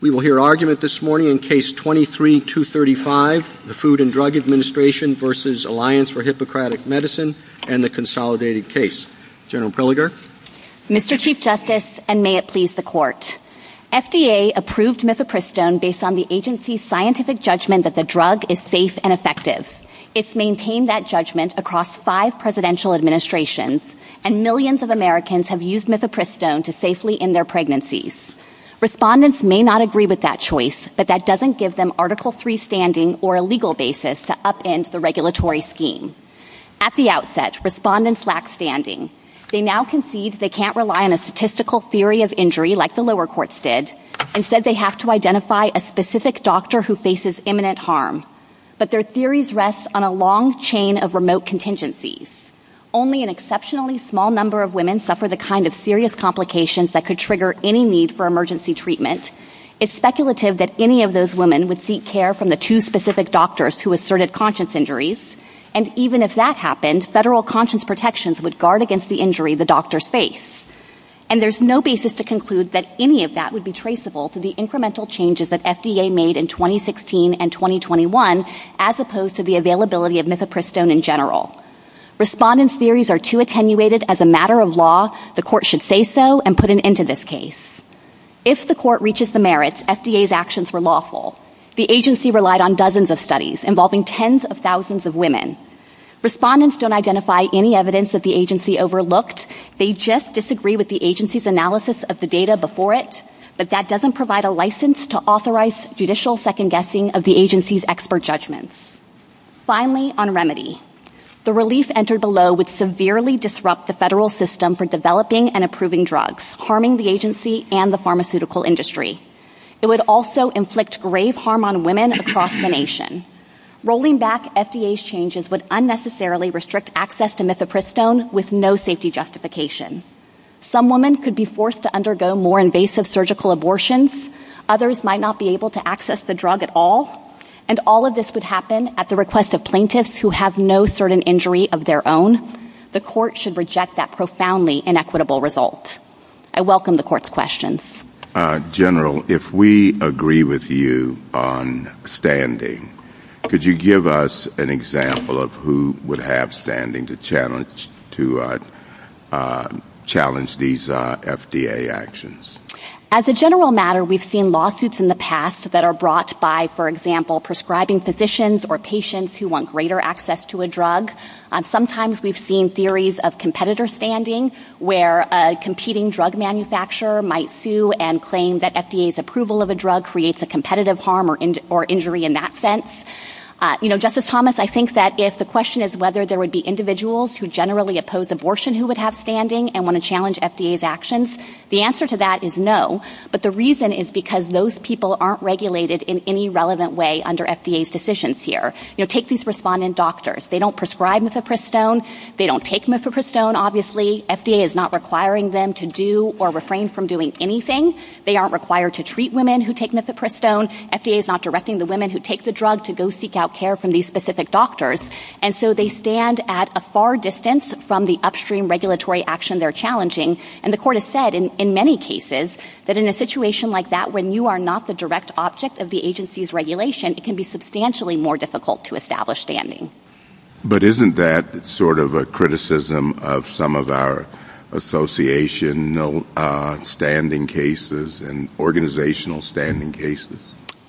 We will hear argument this morning in Case 23-235, the Food and Drug Administration v. Alliance for Hippocratic Medicine and the Consolidated Case. General Pilliger. Mr. Chief Justice, and may it please the Court, FDA approved mifepristone based on the agency's scientific judgment that the drug is safe and effective. It's maintained that judgment across five presidential administrations, and millions of Americans have used mifepristone to safely end their pregnancies. Respondents may not agree with that choice, but that doesn't give them Article III standing or a legal basis to upend the regulatory scheme. At the outset, respondents lack standing. They now concede they can't rely on a statistical theory of injury like the lower courts did. Instead, they have to identify a specific doctor who faces imminent harm. But their theories rest on a long chain of remote contingencies. Only an exceptionally small number of women suffer the kind of serious complications that could trigger any need for emergency treatment. It's speculative that any of those women would seek care from the two specific doctors who asserted conscience injuries, and even if that happened, federal conscience protections would guard against the injury the doctors face. And there's no basis to conclude that any of that would be traceable to the incremental changes that FDA made in 2016 and 2021, as opposed to the availability of mifepristone in general. If the court reaches the merits, FDA's actions were lawful. The agency relied on dozens of studies involving tens of thousands of women. Respondents don't identify any evidence that the agency overlooked. They just disagree with the agency's analysis of the data before it, but that doesn't provide a license to authorize judicial second-guessing of the agency's expert judgments. Finally, on remedy. The relief entered below would severely disrupt the federal system for developing and approving drugs, harming the agency and the pharmaceutical industry. It would also inflict grave harm on women across the nation. Rolling back FDA's changes would unnecessarily restrict access to mifepristone with no safety justification. Some women could be forced to undergo more invasive surgical abortions. Others might not be able to access the drug at all. And all of this would happen at the request of plaintiffs who have no certain injury of their own. The court should reject that profoundly inequitable result. I welcome the court's questions. General, if we agree with you on standing, could you give us an example of who would have standing to challenge these FDA actions? As a general matter, we've seen lawsuits in the past that are brought by, for example, prescribing physicians or patients who want greater access to a drug. Sometimes we've seen theories of competitor standing where a competing drug manufacturer might sue and claim that FDA's approval of a drug creates a competitive harm or injury in that sense. You know, Justice Thomas, I think that if the question is whether there would be individuals who generally oppose abortion who would have standing and want to challenge FDA's actions, the answer to that is no. But the reason is because those people aren't regulated in any relevant way under FDA's decisions here. You know, take these respondent doctors. They don't prescribe mifepristone. They don't take mifepristone, obviously. FDA is not requiring them to do or refrain from doing anything. They aren't required to treat women who take mifepristone. FDA is not directing the women who take the drug to go seek out care from these specific doctors. And so they stand at a far distance from the upstream regulatory action they're challenging. And the court has said in many cases that in a situation like that when you are not the direct object of the agency's regulation, it can be substantially more difficult to establish standing. But isn't that sort of a criticism of some of our associational standing cases and organizational standing cases?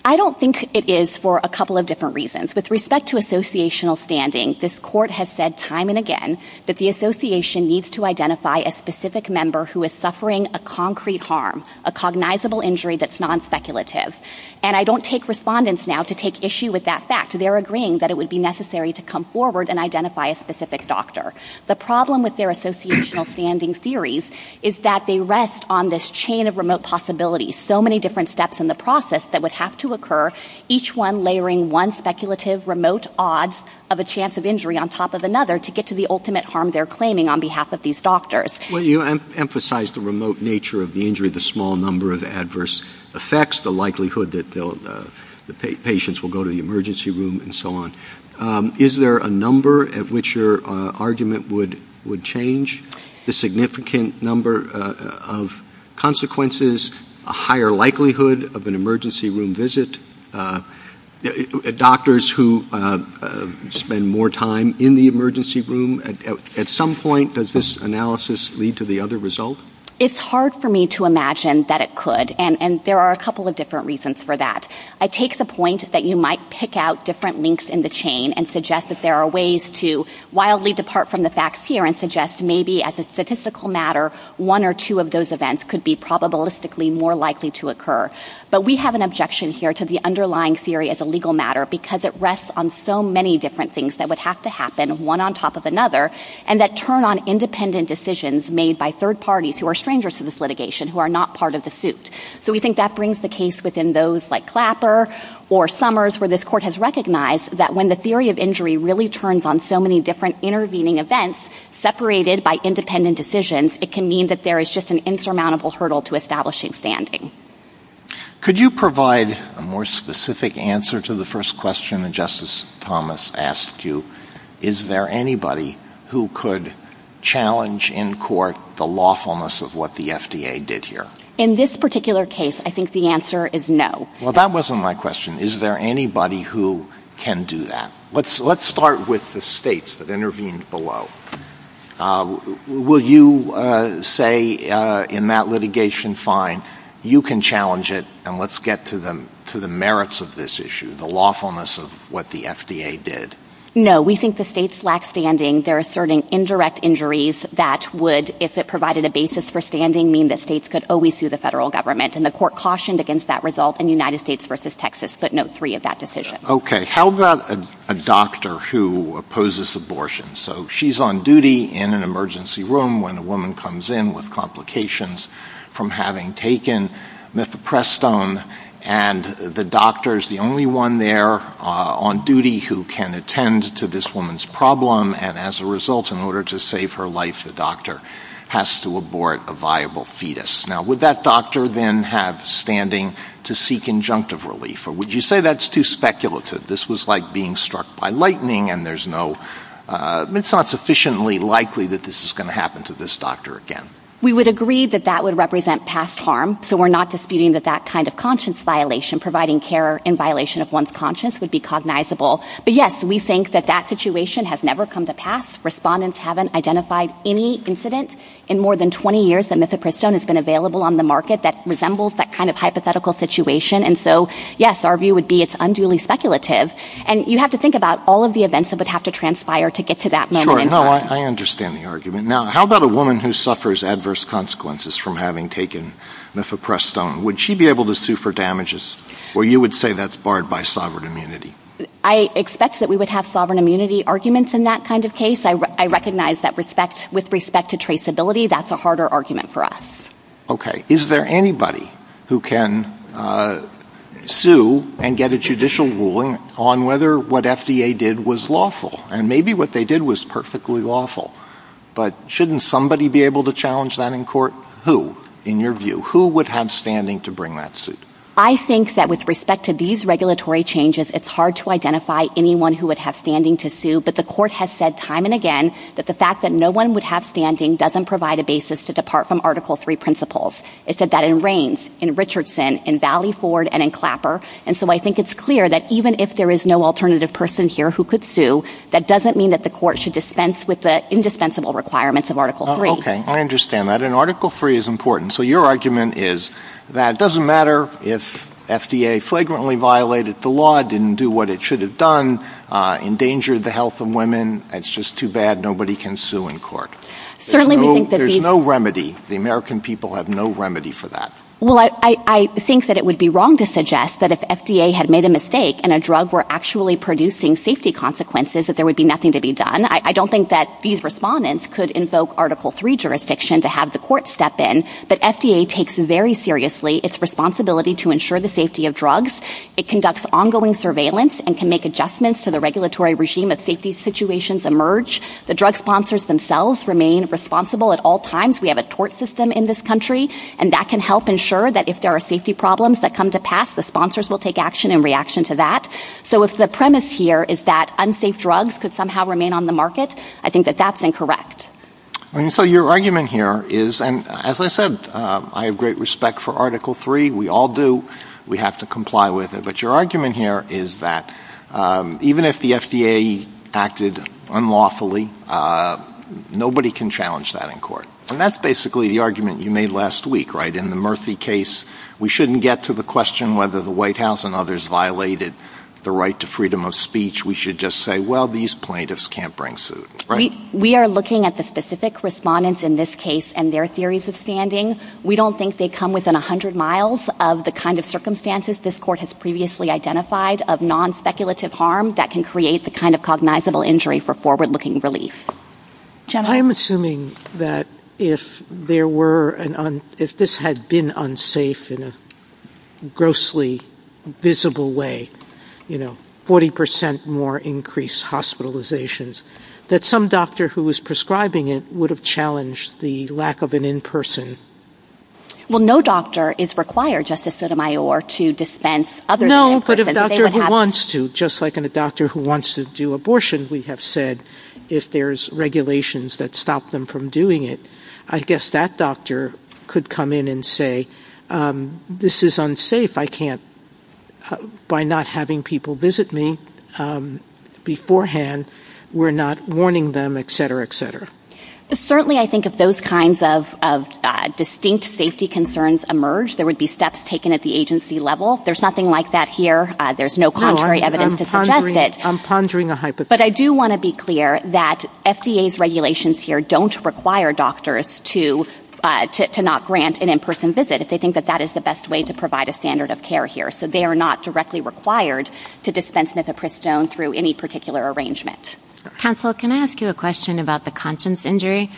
I don't think it is for a couple of different reasons. With respect to associational standing, this court has said time and again that the association needs to identify a specific member who is suffering a concrete harm, a cognizable injury that's non-speculative. And I don't take respondents now to take issue with that fact. They're agreeing that it would be necessary to come forward and identify a specific doctor. The problem with their associational standing theories is that they rest on this chain of remote possibilities, so many different steps in the process that would have to occur, each one layering one speculative remote odds of a chance of injury on top of another to get to the ultimate harm they're claiming on behalf of these doctors. Well, you emphasize the remote nature of the injury, the small number of adverse effects, the likelihood that the patients will go to the emergency room and so on. Is there a number at which your argument would change the significant number of consequences, a higher likelihood of an emergency room visit? Doctors who spend more time in the emergency room, at some point, does this analysis lead to the other result? It's hard for me to imagine that it could, and there are a couple of different reasons for that. I take the point that you might pick out different links in the chain and suggest that there are ways to wildly depart from the facts here and suggest maybe as a statistical matter one or two of those events could be probabilistically more likely to occur. But we have an objection here to the underlying theory as a legal matter because it rests on so many different things that would have to happen, one on top of another, and that turn on independent decisions made by third parties who are strangers to this litigation who are not part of the suit. So we think that brings the case within those like Clapper or Summers where this court has recognized that when the theory of injury really turns on so many different intervening events separated by independent decisions, it can mean that there is just an insurmountable hurdle to establishing standing. Could you provide a more specific answer to the first question that Justice Thomas asked you? Is there anybody who could challenge in court the lawfulness of what the FDA did here? In this particular case, I think the answer is no. Well, that wasn't my question. Is there anybody who can do that? Let's start with the states that intervened below. Will you say in that litigation, fine, you can challenge it, and let's get to the merits of this issue, the lawfulness of what the FDA did? No. We think the states lack standing. They're asserting indirect injuries that would, if it provided a basis for standing, mean that states could always sue the federal government, and the court cautioned against that result in United States v. Texas, footnote three of that decision. Okay. How about a doctor who opposes abortion? She's on duty in an emergency room when a woman comes in with complications from having taken methoprestone, and the doctor is the only one there on duty who can attend to this woman's problem, and as a result, in order to save her life, the doctor has to abort a viable fetus. Now, would that doctor then have standing to seek injunctive relief, or would you say that's too speculative? This was like being struck by lightning, and it's not sufficiently likely that this is going to happen to this doctor again. We would agree that that would represent past harm, so we're not disputing that that kind of conscience violation, providing care in violation of one's conscience, would be cognizable. But yes, we think that that situation has never come to pass. Respondents haven't identified any incident in more than 20 years that methoprestone has been available on the market that resembles that kind of hypothetical situation, and so yes, our view would be it's unduly speculative, and you have to think about all of the events that would have to transpire to get to that moment. Sure, no, I understand the argument. Now, how about a woman who suffers adverse consequences from having taken methoprestone? Would she be able to sue for damages, or you would say that's barred by sovereign immunity? I expect that we would have sovereign immunity arguments in that kind of case. I recognize that with respect to traceability, that's a harder argument for us. Okay, is there anybody who can sue and get a judicial ruling on whether what FDA did was lawful, and maybe what they did was perfectly lawful, but shouldn't somebody be able to challenge that in court? Who, in your view? Who would have standing to bring that suit? I think that with respect to these regulatory changes, it's hard to identify anyone who would have standing to sue, but the court has said time and again that the fact that It said that in Raines, in Richardson, in Valley Ford, and in Clapper, and so I think it's clear that even if there is no alternative person here who could sue, that doesn't mean that the court should dispense with the indispensable requirements of Article III. Okay, I understand that, and Article III is important. So your argument is that it doesn't matter if FDA flagrantly violated the law, didn't do what it should have done, endangered the health of women, that's just too bad, nobody can sue in court. There's no remedy. The American people have no remedy for that. Well, I think that it would be wrong to suggest that if FDA had made a mistake and a drug were actually producing safety consequences, that there would be nothing to be done. I don't think that these respondents could invoke Article III jurisdiction to have the court step in, but FDA takes very seriously its responsibility to ensure the safety of drugs. It conducts ongoing surveillance and can make adjustments to the regulatory regime if safety situations emerge. The drug sponsors themselves remain responsible at all times. We have a tort system in this country, and that can help ensure that if there are safety problems that come to pass, the sponsors will take action in reaction to that. So if the premise here is that unsafe drugs could somehow remain on the market, I think that that's incorrect. So your argument here is, and as I said, I have great respect for Article III. We all do. We have to comply with it. But your argument here is that even if the FDA acted unlawfully, nobody can challenge that in court. And that's basically the argument you made last week, right? In the Murphy case, we shouldn't get to the question whether the White House and others violated the right to freedom of speech. We should just say, well, these plaintiffs can't bring suit, right? We are looking at the specific respondents in this case and their theories of standing. We don't think they come within 100 miles of the kind of circumstances this court has previously identified of non-speculative harm that can create the kind of cognizable injury for forward-looking relief. Jennifer? I'm assuming that if this had been unsafe in a grossly visible way, you know, 40 percent more increased hospitalizations, that some doctor who was prescribing it would have challenged the lack of an in-person. Well, no doctor is required, Justice Sotomayor, to dispense other than in-person. No, but if a doctor wants to, just like a doctor who wants to do abortion, we have said if there's regulations that stop them from doing it, I guess that doctor could come in and say, this is unsafe. I can't, by not having people visit me beforehand, we're not warning them, et cetera, et cetera. Certainly, I think if those kinds of distinct safety concerns emerge, there would be steps taken at the agency level. There's nothing like that here. There's no contrary evidence to suggest that. I'm pondering a hypothesis. But I do want to be clear that FDA's regulations here don't require doctors to not grant an in-person visit if they think that that is the best way to provide a standard of care here. So they are not directly required to dispense methopristone through any particular arrangement. Counsel, can I ask you a question about the conscience injury?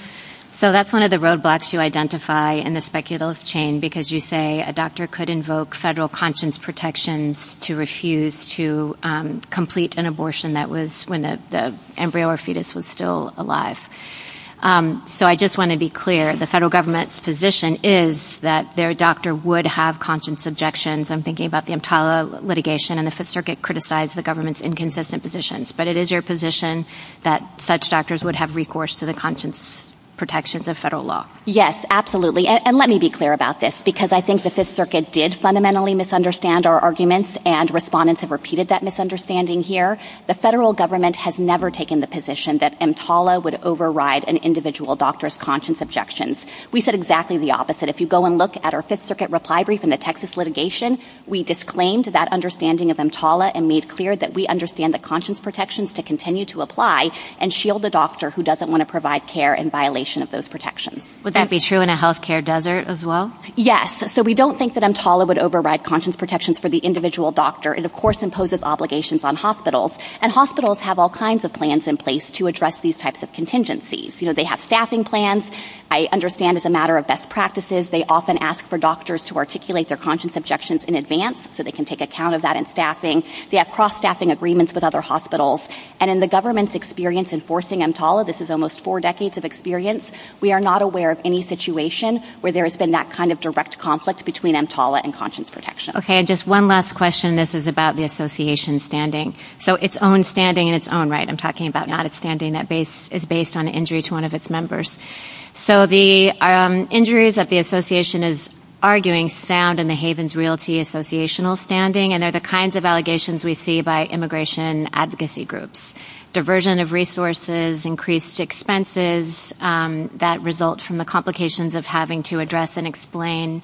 So that's one of the roadblocks you identify in the speculative chain, because you say a doctor could invoke federal conscience protections to refuse to complete an abortion that was when the embryo or fetus was still alive. So I just want to be clear, the federal government's position is that their doctor would have conscience objections. I'm thinking about the Imtala litigation and if the circuit criticized the government's inconsistent positions. But it is your position that such doctors would have recourse to the conscience protections of federal law? Yes, absolutely. And let me be clear about this, because I think the Fifth Circuit did fundamentally misunderstand our arguments and respondents have repeated that misunderstanding here. The federal government has never taken the position that Imtala would override an individual doctor's conscience objections. We said exactly the opposite. If you go and look at our Fifth Circuit reply brief in the Texas litigation, we disclaimed that understanding of Imtala and made clear that we understand the conscience protections to continue to apply and shield the doctor who doesn't want to provide care in violation of those protections. Would that be true in a health care desert as well? Yes. So we don't think that Imtala would override conscience protections for the individual doctor. It, of course, imposes obligations on hospitals. And hospitals have all kinds of plans in place to address these types of contingencies. They have staffing plans. I understand it's a matter of best practices. They often ask for doctors to articulate their conscience objections in advance so they can take account of that in staffing. They have cross-staffing agreements with other hospitals. And in the government's experience enforcing Imtala, this is almost four decades of experience, we are not aware of any situation where there has been that kind of direct conflict between Imtala and conscience protection. Okay. Just one last question. This is about the association's standing. So its own standing in its own right. I'm talking about not a standing that is based on an injury to one of its members. So the injuries that the association is arguing stand in the Havens Realty associational standing. And they're the kinds of allegations we see by immigration advocacy groups. Diversion of resources, increased expenses that result from the complications of having to address and explain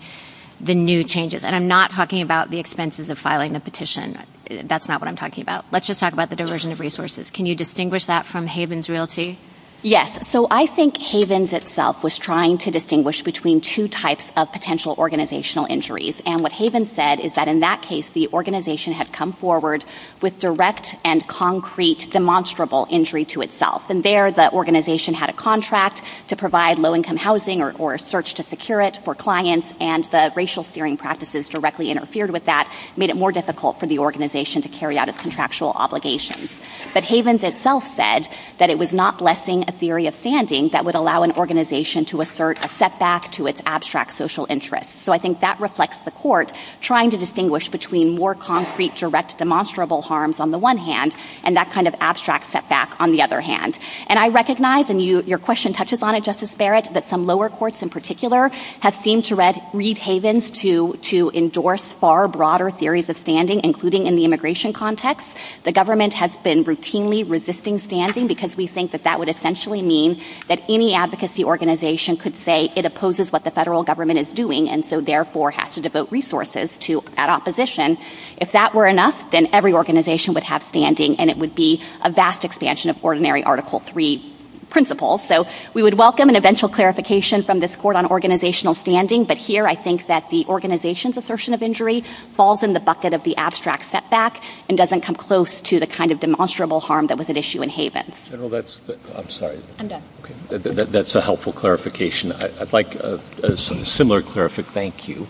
the new changes. And I'm not talking about the expenses of filing the petition. That's not what I'm talking about. Let's just talk about the diversion of resources. Can you distinguish that from Havens Realty? Yes. So I think Havens itself was trying to distinguish between two types of potential organizational injuries. And what Havens said is that in that case the organization had come forward with direct and concrete demonstrable injury to itself. And there the organization had a contract to provide low income housing or a search to secure it for clients and the racial steering practices directly interfered with that, made it more difficult for the organization to carry out its contractual obligations. But Havens itself said that it was not blessing a theory of standing that would allow an organization to assert a setback to its abstract social interest. So I think that reflects the court trying to distinguish between more concrete direct demonstrable harms on the one hand and that kind of abstract setback on the other hand. And I recognize, and your question touches on it, Justice Barrett, that some lower courts in particular have seemed to read Havens to endorse far broader theories of standing, including in the immigration context. The government has been routinely resisting standing because we think that that would essentially mean that any advocacy organization could say it opposes what the federal government is doing and so therefore has to devote resources to that opposition. If that were enough, then every organization would have standing and it would be a vast expansion of ordinary Article III principles. So we would welcome an eventual clarification from this court on organizational standing, but here I think that the organization's assertion of injury falls in the bucket of the abstract setback and doesn't come close to the kind of demonstrable harm that was at issue in Havens. General, that's... I'm sorry. I'm done. That's a helpful clarification. I'd like a similar clarification, thank you,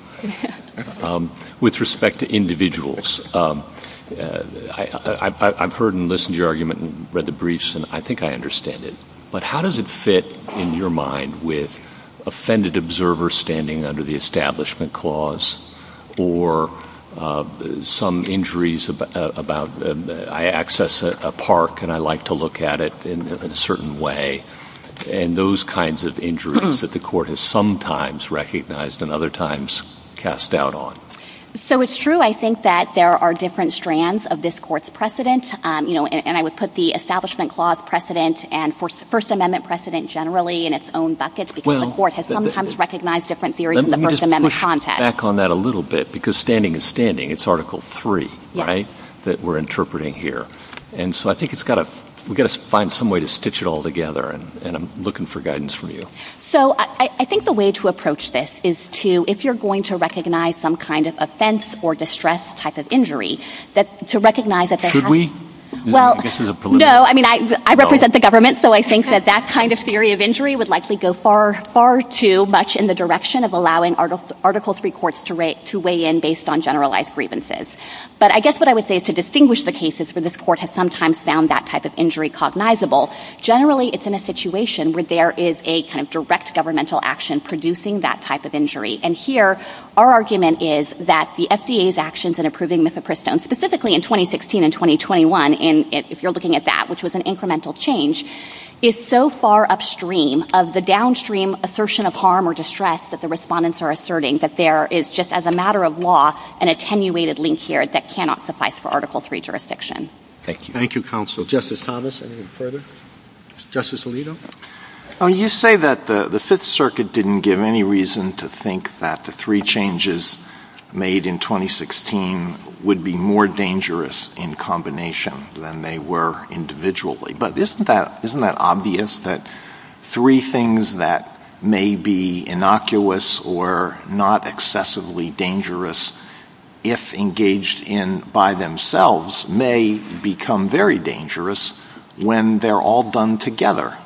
with respect to individuals. I've heard and listened to your argument and read the briefs and I think I understand it, but how does it fit in your mind with offended observers standing under the Establishment Clause or some injuries about... I access a park and I like to look at it in a certain way and those kinds of injuries that the court has sometimes recognized and other times cast doubt on. So it's true, I think, that there are different strands of this court's precedent and I would put the Establishment Clause precedent and First Amendment precedent generally in its own bucket because the court has sometimes recognized different theories in the First Let me just push back on that a little bit because standing is standing. It's Article 3, right, that we're interpreting here. And so I think we've got to find some way to stitch it all together and I'm looking for guidance from you. So I think the way to approach this is to, if you're going to recognize some kind of offense or distress type of injury, that to recognize that there has... Should we? No, I mean, I represent the government, so I think that that kind of theory of injury would likely go far, far too much in the direction of allowing Article 3 courts to weigh in based on generalized grievances. But I guess what I would say is to distinguish the cases where this court has sometimes found that type of injury cognizable, generally it's in a situation where there is a kind of direct governmental action producing that type of injury. And here, our argument is that the FDA's actions in approving Mifepristone, specifically in 2016 and 2021, if you're looking at that, which was an incremental change, is so far upstream of the downstream assertion of harm or distress that the respondents are asserting, that there is just, as a matter of law, an attenuated link here that cannot suffice for Article 3 jurisdiction. Thank you. Thank you, counsel. Justice Thomas, anything further? Justice Alito? Well, you say that the Fifth Circuit didn't give any reason to think that the three changes made in 2016 would be more dangerous in combination than they were individually. But isn't that obvious, that three things that may be innocuous or not excessively dangerous, if engaged in by themselves, may become very dangerous when they're all done together?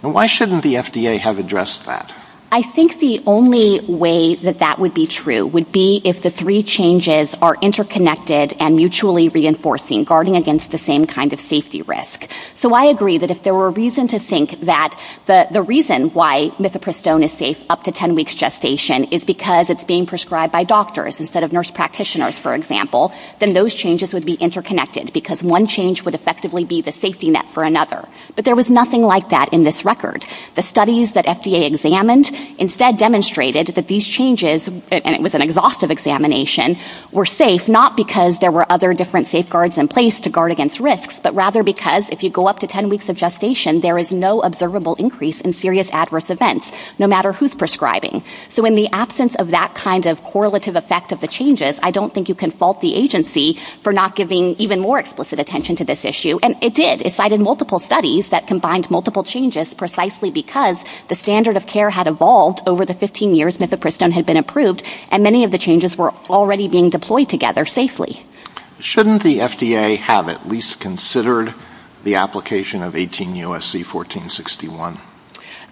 Why shouldn't the FDA have addressed that? I think the only way that that would be true would be if the three changes are interconnected and mutually reinforcing, guarding against the same kind of safety risk. So I agree that if there were a reason to think that the reason why Mifepristone is safe up to 10 weeks gestation is because it's being prescribed by doctors instead of nurse practitioners, for example, then those changes would be interconnected because one change would effectively be the safety net for another. But there was nothing like that in this record. The studies that FDA examined instead demonstrated that these changes, and it was an exhaustive examination, were safe, not because there were other different safeguards in place to guard against risks, but rather because if you go up to 10 weeks of gestation, there is no observable increase in serious adverse events, no matter who's prescribing. So in the absence of that kind of correlative effect of the changes, I don't think you can fault the agency for not giving even more explicit attention to this issue. And it did. It cited multiple studies that combined multiple changes precisely because the standard of care had evolved over the 15 years Mifepristone had been approved, and many of the changes were already being deployed together safely. Shouldn't the FDA have at least considered the application of 18 U.S.C. 1461?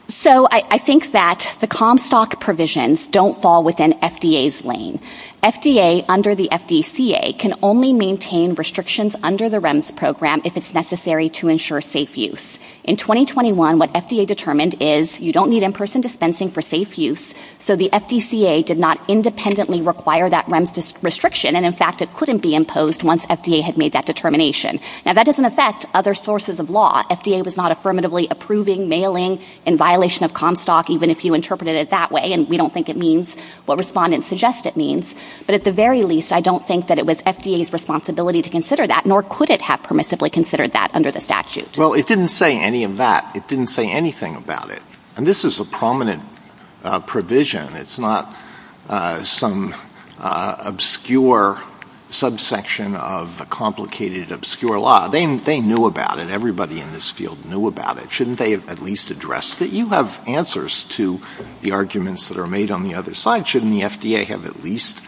So I think that the Comstock provisions don't fall within FDA's lane. FDA, under the FDCA, can only maintain restrictions under the REMS program if it's necessary to ensure safe use. In 2021, what FDA determined is you don't need in-person dispensing for safe use, so the FDCA did not independently require that REMS restriction, and, in fact, it couldn't be imposed once FDA had made that determination. Now, that doesn't affect other sources of law. FDA was not affirmatively approving mailing in violation of Comstock, even if you interpreted it that way, and we don't think it means what respondents suggest it means. But at the very least, I don't think that it was FDA's responsibility to consider that, nor could it have permissively considered that under the statute. Well, it didn't say any of that. It didn't say anything about it. And this is a prominent provision. It's not some obscure subsection of a complicated, obscure law. They knew about it. Everybody in this field knew about it. Shouldn't they have at least addressed it? You have answers to the arguments that are made on the other side. Shouldn't the FDA have at least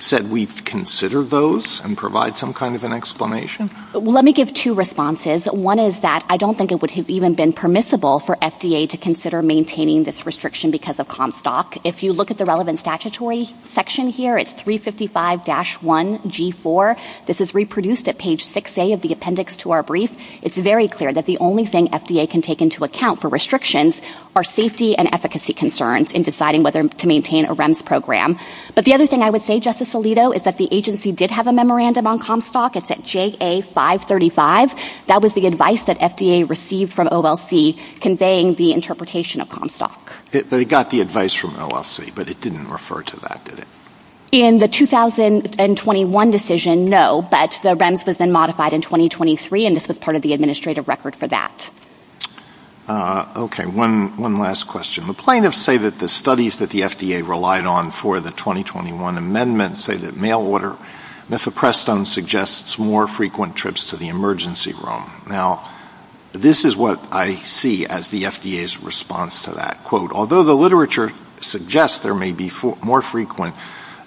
said we've considered those and provide some kind of an explanation? Let me give two responses. One is that I don't think it would have even been permissible for FDA to consider maintaining this restriction because of Comstock. If you look at the relevant statutory section here, it's 355-1G4. This is reproduced at page 6A of the appendix to our brief. It's very clear that the only thing FDA can take into account for restrictions are safety and efficacy concerns in deciding whether to maintain a REMS program. But the other thing I would say, Justice Alito, is that the agency did have a memorandum on Comstock. It's at JA 535. That was the advice that FDA received from OLC conveying the interpretation of Comstock. They got the advice from OLC, but it didn't refer to that, did it? In the 2021 decision, no, but the REMS has been modified in 2023, and this was part of the administrative record for that. Okay, one last question. The plaintiffs say that the studies that the FDA relied on for the 2021 amendment say that Now, this is what I see as the FDA's response to that quote. Although the literature suggests there may be more frequent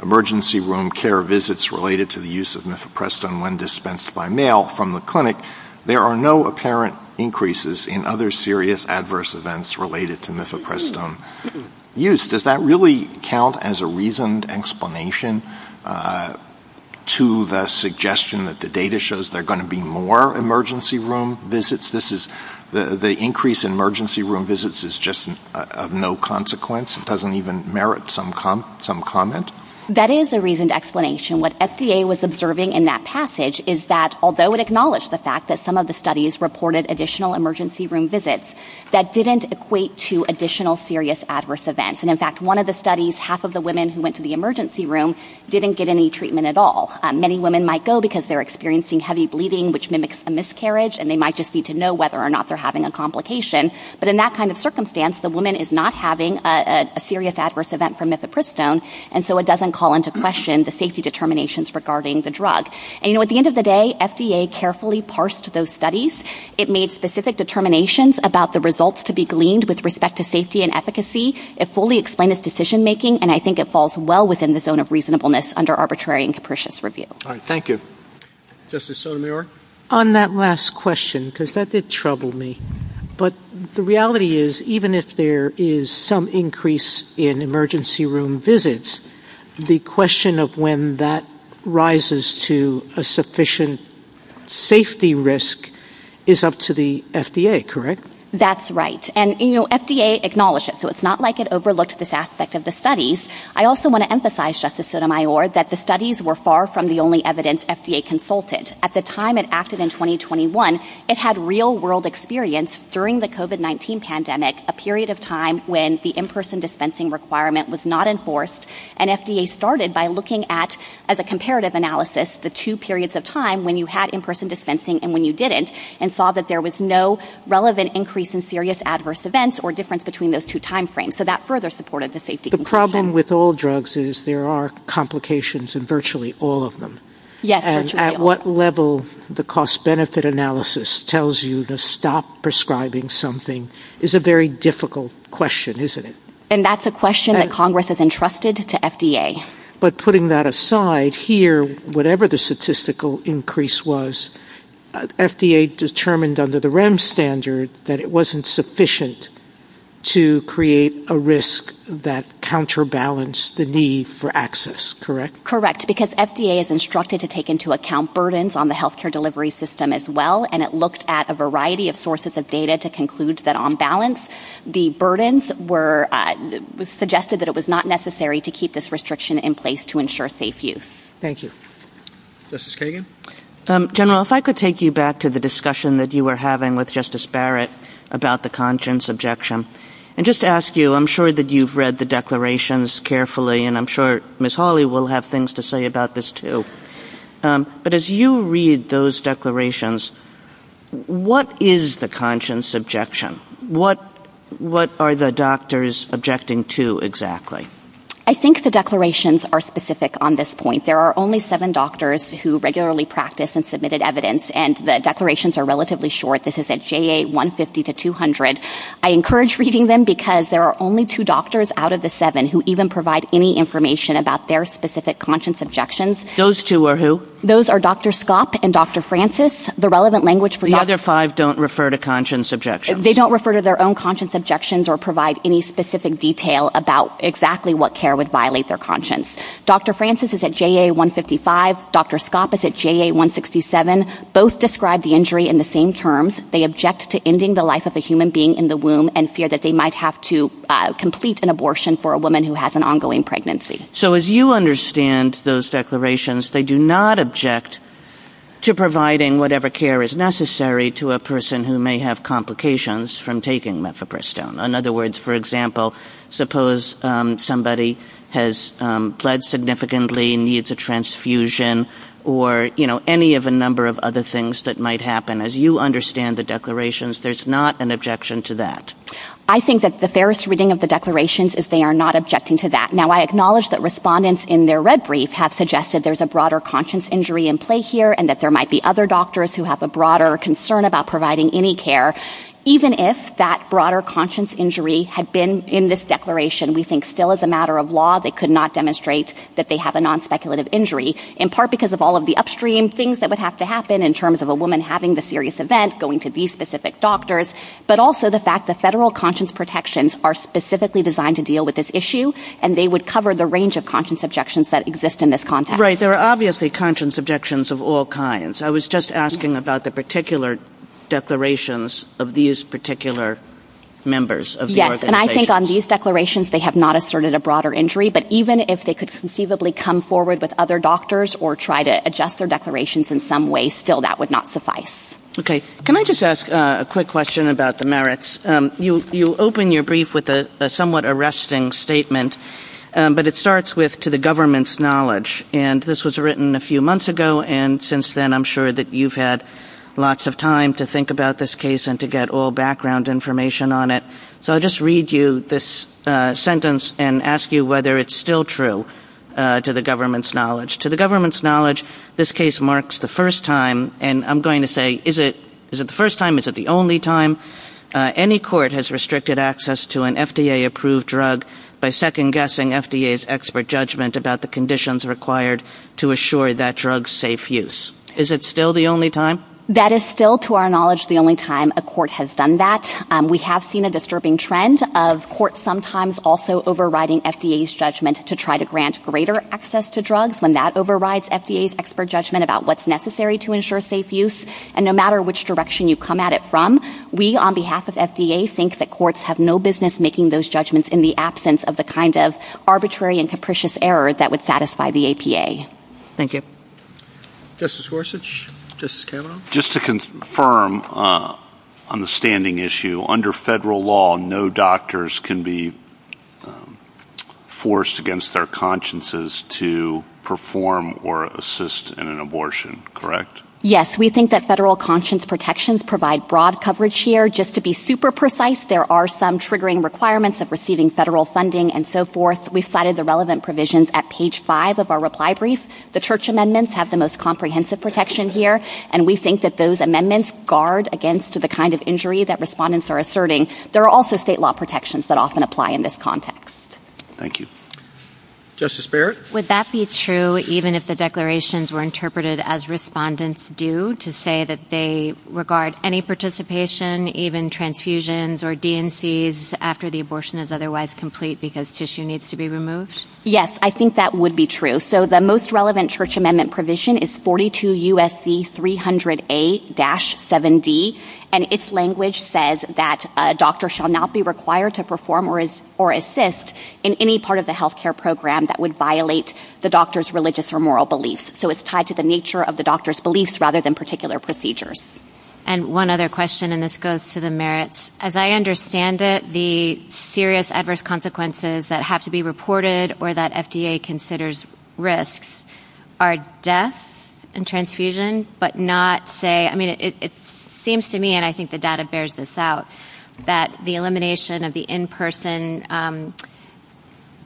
emergency room care visits related to the use of mifeprestone when dispensed by mail from the clinic, there are no apparent increases in other serious adverse events related to mifeprestone use. Does that really count as a reasoned explanation to the suggestion that the data shows there are going to be more emergency room visits? The increase in emergency room visits is just of no consequence? It doesn't even merit some comment? That is a reasoned explanation. What FDA was observing in that passage is that although it acknowledged the fact that some of the studies reported additional emergency room visits, that didn't equate to additional serious adverse events. In fact, one of the studies, half of the women who went to the emergency room didn't get any treatment at all. Many women might go because they're experiencing heavy bleeding, which mimics a miscarriage, and they might just need to know whether or not they're having a complication. But in that kind of circumstance, the woman is not having a serious adverse event from mifeprestone, and so it doesn't call into question the safety determinations regarding the drug. And at the end of the day, FDA carefully parsed those studies. It made specific determinations about the results to be gleaned with respect to safety and efficacy. It fully explained its decision making, and I think it falls well within the zone of reasonableness under arbitrary and capricious review. All right. Thank you. Justice Sotomayor? On that last question, because that did trouble me, but the reality is even if there is some increase in emergency room visits, the question of when that rises to a sufficient safety risk is up to the FDA, correct? That's right. And FDA acknowledged it, so it's not like it overlooked this aspect of the studies. I also want to emphasize, Justice Sotomayor, that the studies were far from the only evidence FDA consulted. At the time it acted in 2021, it had real world experience during the COVID-19 pandemic, a period of time when the in-person dispensing requirement was not enforced, and FDA started by looking at, as a comparative analysis, the two periods of time when you had in-person dispensing and when you didn't, and saw that there was no relevant increase in serious adverse events or difference between those two timeframes. So that further supported the safety. The problem with all drugs is there are complications in virtually all of them. Yes. And at what level the cost-benefit analysis tells you to stop prescribing something is a very difficult question, isn't it? And that's a question that Congress has entrusted to FDA. But putting that aside, here, whatever the statistical increase was, FDA determined under the REMS standard that it wasn't sufficient to create a risk that counterbalanced the need for access, correct? Correct. Because FDA is instructed to take into account burdens on the healthcare delivery system as well, and it looked at a variety of sources of data to conclude that, on balance, the burdens were suggested that it was not necessary to keep this restriction in place to ensure safe use. Thank you. Justice Kagan? General, if I could take you back to the discussion that you were having with Justice Barrett about the conscience objection. And just to ask you, I'm sure that you've read the declarations carefully, and I'm sure Ms. Hawley will have things to say about this, too. But as you read those declarations, what is the conscience objection? What are the doctors objecting to, exactly? I think the declarations are specific on this point. There are only seven doctors who regularly practice and submitted evidence, and the declarations are relatively short. This is at JA 150 to 200. I encourage reading them because there are only two doctors out of the seven who even provide any information about their specific conscience objections. Those two are who? Those are Dr. Skopp and Dr. Francis. The relevant language for Dr. The other five don't refer to conscience objections. They don't refer to their own conscience objections or provide any specific detail about exactly what care would violate their conscience. Dr. Francis is at JA 155. Dr. Skopp is at JA 167. Both describe the injury in the same terms. They object to ending the life of a human being in the womb and fear that they might have to complete an abortion for a woman who has an ongoing pregnancy. So as you understand those declarations, they do not object to providing whatever care is necessary to a person who may have complications from taking mefaprestone. In other words, for example, suppose somebody has bled significantly and needs a transfusion or, you know, any of a number of other things that might happen. As you understand the declarations, there's not an objection to that. I think that the fairest reading of the declarations is they are not objecting to that. Now, I acknowledge that respondents in their red brief have suggested there's a broader conscience injury in play here and that there might be other doctors who have a broader concern about providing any care. Even if that broader conscience injury had been in this declaration, we think still as a matter of law, they could not demonstrate that they have a non-speculative injury, in part because of all of the upstream things that would have to happen in terms of a woman having the serious event, going to these specific doctors, but also the fact that federal conscience protections are specifically designed to deal with this issue and they would cover the range of conscience objections that exist in this context. Right. There are obviously conscience objections of all kinds. I was just asking about the particular declarations of these particular members of the organization. Yes. And I think on these declarations, they have not asserted a broader injury, but even if they could conceivably come forward with other doctors or try to adjust their declarations in some way, still that would not suffice. Okay. Can I just ask a quick question about the merits? You open your brief with a somewhat arresting statement, but it starts with to the government's then I'm sure that you've had lots of time to think about this case and to get all background information on it. So I'll just read you this sentence and ask you whether it's still true to the government's knowledge. To the government's knowledge, this case marks the first time and I'm going to say, is it the first time? Is it the only time? Any court has restricted access to an FDA approved drug by second guessing FDA's expert about the conditions required to assure that drug safe use. Is it still the only time? That is still to our knowledge, the only time a court has done that. We have seen a disturbing trend of court sometimes also overriding FDA's judgment to try to grant greater access to drugs when that overrides FDA's expert judgment about what's necessary to ensure safe use. And no matter which direction you come at it from, we on behalf of FDA think that courts have no business making those judgments in the absence of the kind of arbitrary and capricious error that would satisfy the APA. Thank you. Justice Gorsuch, Justice Kavanaugh. Just to confirm on the standing issue, under federal law, no doctors can be forced against their consciences to perform or assist in an abortion, correct? Yes, we think that federal conscience protections provide broad coverage here. Just to be super precise, there are some triggering requirements of receiving federal funding and so forth. We cited the relevant provisions at page five of our reply brief. The church amendments have the most comprehensive protection here and we think that those amendments guard against the kind of injury that respondents are asserting. There are also state law protections that often apply in this context. Thank you. Justice Barrett. Would that be true even if the declarations were interpreted as respondents do to say that they regard any participation, even transfusions or DMCs after the abortion is otherwise complete because tissue needs to be removed? Yes, I think that would be true. So the most relevant church amendment provision is 42 U.S.C. 300A-7D and its language says that a doctor shall not be required to perform or assist in any part of the health care program that would violate the doctor's religious or moral beliefs. So it's tied to the nature of the doctor's beliefs rather than particular procedures. And one other question and this goes to the merits. As I understand it, the serious adverse consequences that have to be reported or that FDA considers risks are death and transfusion but not say, I mean, it seems to me and I think the data bears this out, that the elimination of the in-person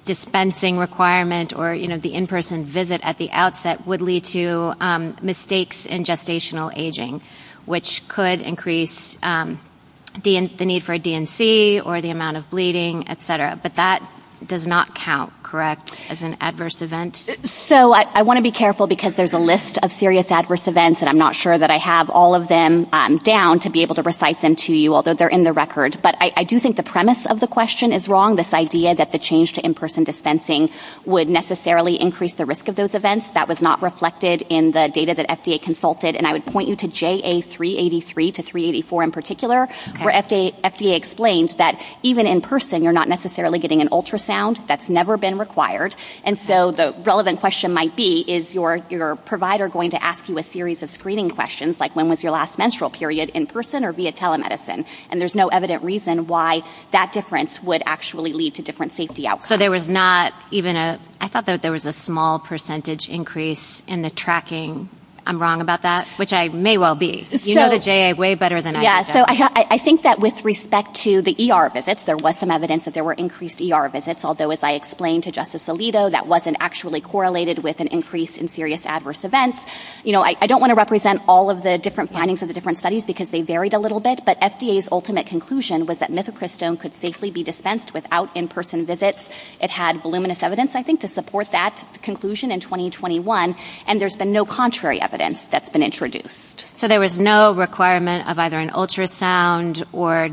dispensing requirement or, you know, the in-person visit at the outset would lead to mistakes in gestational aging which could increase the need for a DMC or the amount of bleeding, et cetera. But that does not count, correct, as an adverse event? So I want to be careful because there's a list of serious adverse events and I'm not sure that I have all of them down to be able to recite them to you, although they're in the record. But I do think the premise of the question is wrong, this idea that the change to in-person dispensing would necessarily increase the risk of those events. That was not reflected in the data that FDA consulted. And I would point you to JA383 to 384 in particular where FDA explains that even in person you're not necessarily getting an ultrasound. That's never been required. And so the relevant question might be, is your provider going to ask you a series of screening questions like when was your last menstrual period in person or via telemedicine? And there's no evident reason why that difference would actually lead to different safety outcomes. So there was not even a, I thought that there was a small percentage increase in the tracking. I'm wrong about that, which I may well be. You know the JA way better than I do. Yeah. So I think that with respect to the ER visits, there was some evidence that there were increased ER visits, although as I explained to Justice Alito, that wasn't actually correlated with an increase in serious adverse events. You know, I don't want to represent all of the different findings of the different studies because they varied a little bit. But FDA's ultimate conclusion was that mifepristone could safely be dispensed without in-person visits. It had voluminous evidence, I think, to support that conclusion in 2021. And there's been no contrary evidence that's been introduced. So there was no requirement of either an ultrasound or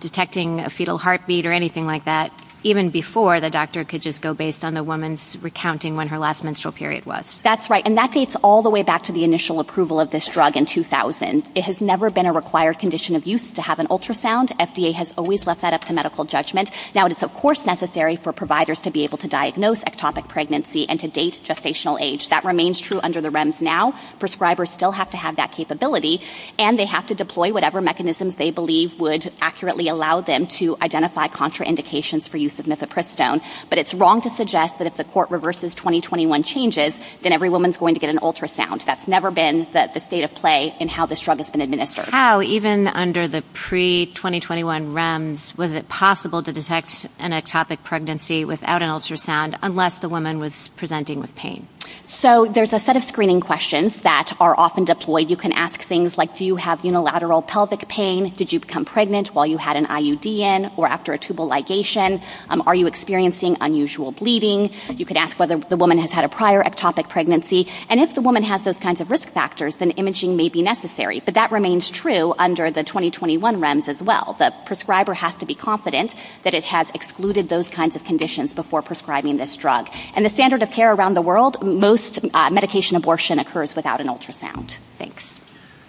detecting a fetal heartbeat or anything like that, even before the doctor could just go based on the woman's recounting when her last menstrual period was. That's right. And that dates all the way back to the initial approval of this drug in 2000. It has never been a required condition of use to have an ultrasound. FDA has always left that up to medical judgment. Now it is, of course, necessary for providers to be able to diagnose ectopic pregnancy and date gestational age. That remains true under the REMS now. Prescribers still have to have that capability. And they have to deploy whatever mechanisms they believe would accurately allow them to identify contraindications for use of mifepristone. But it's wrong to suggest that if the court reverses 2021 changes, then every woman's going to get an ultrasound. That's never been the state of play in how this drug has been administered. How, even under the pre-2021 REMS, was it possible to detect an ectopic pregnancy without an ultrasound unless the woman was presenting with pain? So there's a set of screening questions that are often deployed. You can ask things like, do you have unilateral pelvic pain? Did you become pregnant while you had an IUD in or after a tubal ligation? Are you experiencing unusual bleeding? You could ask whether the woman has had a prior ectopic pregnancy. And if the woman has those kinds of risk factors, then imaging may be necessary. But that remains true under the 2021 REMS as well. The prescriber has to be confident that it has excluded those kinds of conditions before prescribing this drug. And the standard of care around the world, most medication abortion occurs without an ultrasound. Thanks.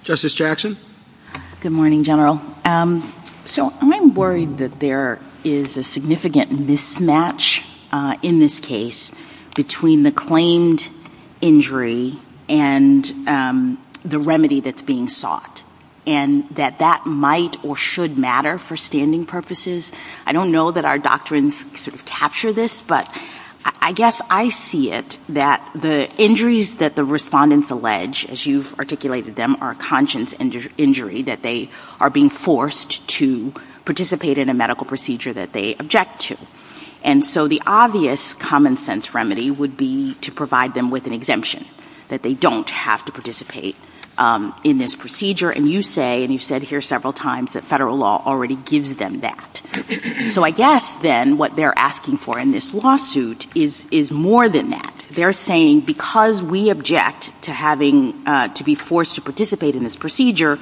Justice Jackson. Good morning, General. So I'm worried that there is a significant mismatch in this case between the claimed injury and the remedy that's being sought, and that that might or should matter for standing purposes. I don't know that our doctrines sort of capture this, but I guess I see it that the injuries that the respondents allege, as you've articulated them, are a conscience injury, that they are being forced to participate in a medical procedure that they object to. And so the obvious common sense remedy would be to provide them with an exemption, that they don't have to participate in this procedure. And you say, and you said here several times, that federal law already gives them that. So I guess then what they're asking for in this lawsuit is more than that. They're saying, because we object to having to be forced to participate in this procedure,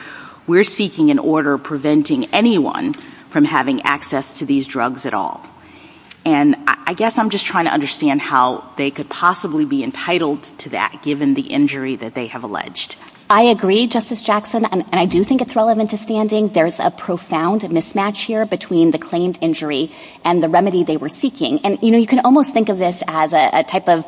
we're seeking an order preventing anyone from having access to these drugs at all. And I guess I'm just trying to understand how they could possibly be entitled to that, given the injury that they have alleged. I agree, Justice Jackson, and I do think it's relevant to standing. There's a profound mismatch here between the claimed injury and the remedy they were seeking. And, you know, you can almost think of this as a type of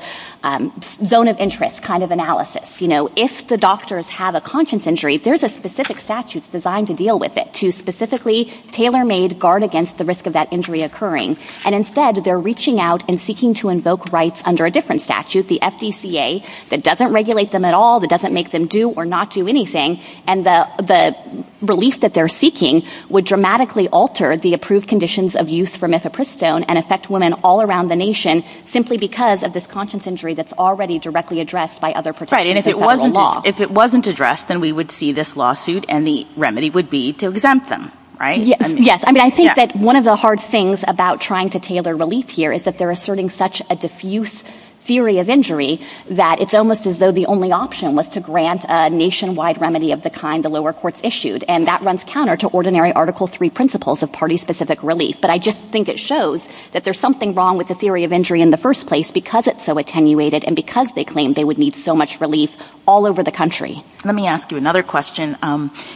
zone of interest kind of analysis. You know, if the doctors have a conscience injury, there's a specific statute designed to deal with it, to specifically tailor-made guard against the risk of that injury occurring. And instead, they're reaching out and seeking to invoke rights under a different statute, the FDCA, that doesn't regulate them at all, that doesn't make them do or not do anything. And the relief that they're seeking would dramatically alter the approved conditions of use for methapristone and affect women all around the nation simply because of this conscience injury that's already directly addressed by other protections of federal law. If it wasn't addressed, then we would see this lawsuit and the remedy would be to exempt them, right? Yes. I mean, I think that one of the hard things about trying to tailor relief here is that they're asserting such a diffuse theory of injury that it's almost as though the only option was to grant a nationwide remedy of the kind the lower courts issued. And that runs counter to ordinary Article III principles of party-specific relief. But I just think it shows that there's something wrong with the theory of injury in the first place because it's so attenuated and because they claim they would need so much relief all over the country. Let me ask you another question.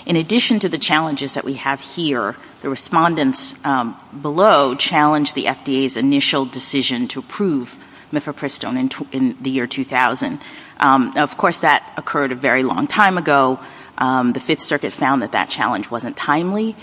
In addition to the challenges that we have here, the respondents below challenged the FDA's initial decision to approve methapristone in the year 2000. Of course, that occurred a very long time ago. The Fifth Circuit found that that challenge wasn't timely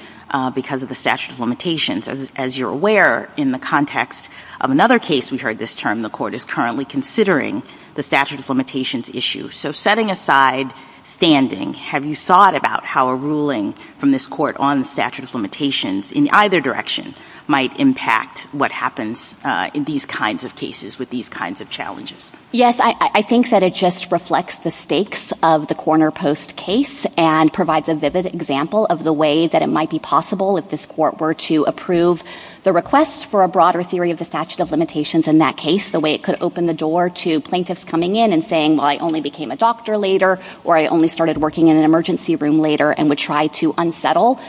because of the statute of limitations. As you're aware, in the context of another case we heard this term, the court is currently considering the statute of limitations issue. So setting aside standing, have you thought about how a ruling from this court on the statute of limitations in either direction might impact what happens in these kinds of cases with these kinds of challenges? Yes, I think that it just reflects the stakes of the corner post case and provides a vivid example of the way that it might be possible if this court were to approve the request for a broader theory of the statute of limitations in that case, the way it could open the door to plaintiffs coming in and saying, well, I only became a doctor later or I only started working in an emergency room later and would try to unsettle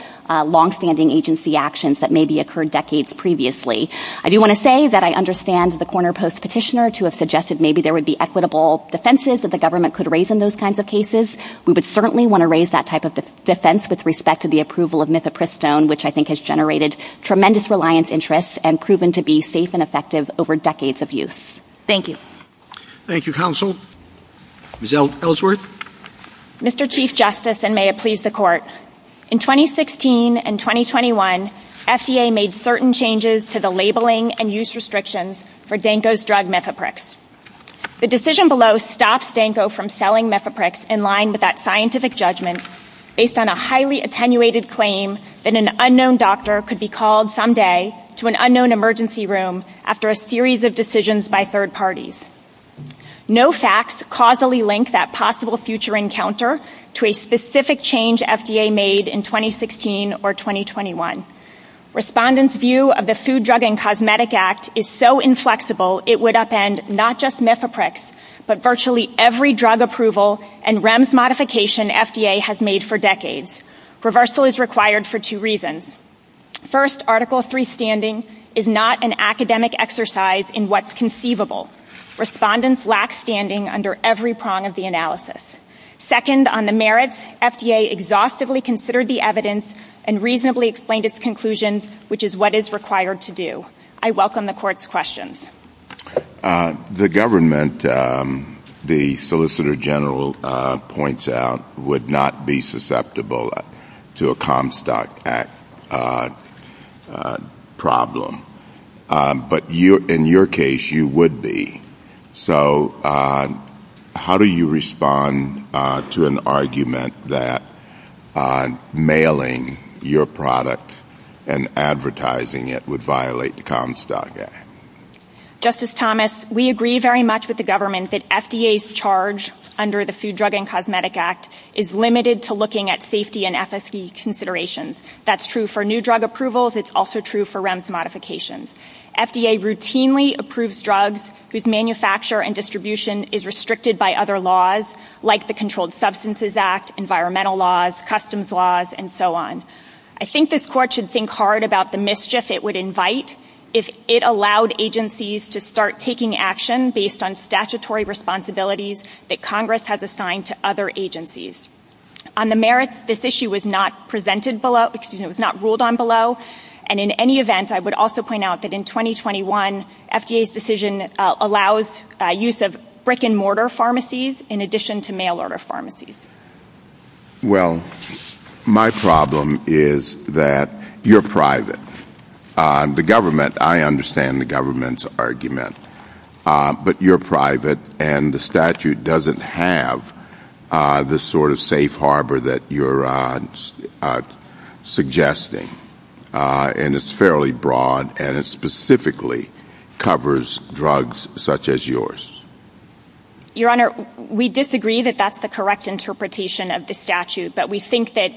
longstanding agency actions that maybe occurred decades previously. I do want to say that I understand the corner post petitioner to have suggested maybe there would be equitable defenses that the government could raise in those kinds of cases. We would certainly want to raise that type of defense with respect to the approval of methapristone, which I think has generated tremendous reliance, interest and proven to be safe and effective over decades of use. Thank you. Thank you, counsel. Ms. Ellsworth. Mr. Chief Justice, and may it please the court. In 2016 and 2021, FDA made certain changes to the labeling and use restrictions for Danco's drug, Mefaprix. The decision below stops Danco from selling Mefaprix in line with that scientific judgment based on a highly attenuated claim that an unknown doctor could be called someday to an unknown emergency room after a series of decisions by third parties. No facts causally link that possible future encounter to a specific change FDA made in 2016 or 2021. Respondents' view of the Food, Drug and Cosmetic Act is so inflexible it would upend not just Mefaprix, but virtually every drug approval and REMS modification FDA has made for decades. Reversal is required for two reasons. First, Article III standing is not an academic exercise in what's conceivable. Respondents lack standing under every prong of the analysis. Second, on the merits, FDA exhaustively considered the evidence and reasonably explained its conclusions, which is what is required to do. I welcome the court's questions. The government, the Solicitor General points out, would not be susceptible to a Comstock Act problem. But in your case, you would be. So how do you respond to an argument that mailing your product and advertising it would violate the Comstock Act? Justice Thomas, we agree very much with the government that FDA's charge under the Food, Drug and Cosmetic Act is limited to looking at safety and FSD considerations. That's true for new drug approvals. It's also true for REMS modifications. FDA routinely approves drugs whose manufacture and distribution is restricted by other laws like the Controlled Substances Act, environmental laws, customs laws, and so on. I think this court should think hard about the mischief it would invite if it allowed agencies to start taking action based on statutory responsibilities that Congress has assigned to other agencies. On the merits, this issue was not presented below, was not ruled on below. And in any event, I would also point out that in 2021, FDA's decision allows use of brick and mortar pharmacies in addition to mail-order pharmacies. Well, my problem is that you're private. The government, I understand the government's argument, but you're private and the statute doesn't have the sort of safe harbor that you're suggesting. And it's fairly broad and it specifically covers drugs such as yours. Your Honor, we disagree that that's the correct interpretation of the statute, but we think that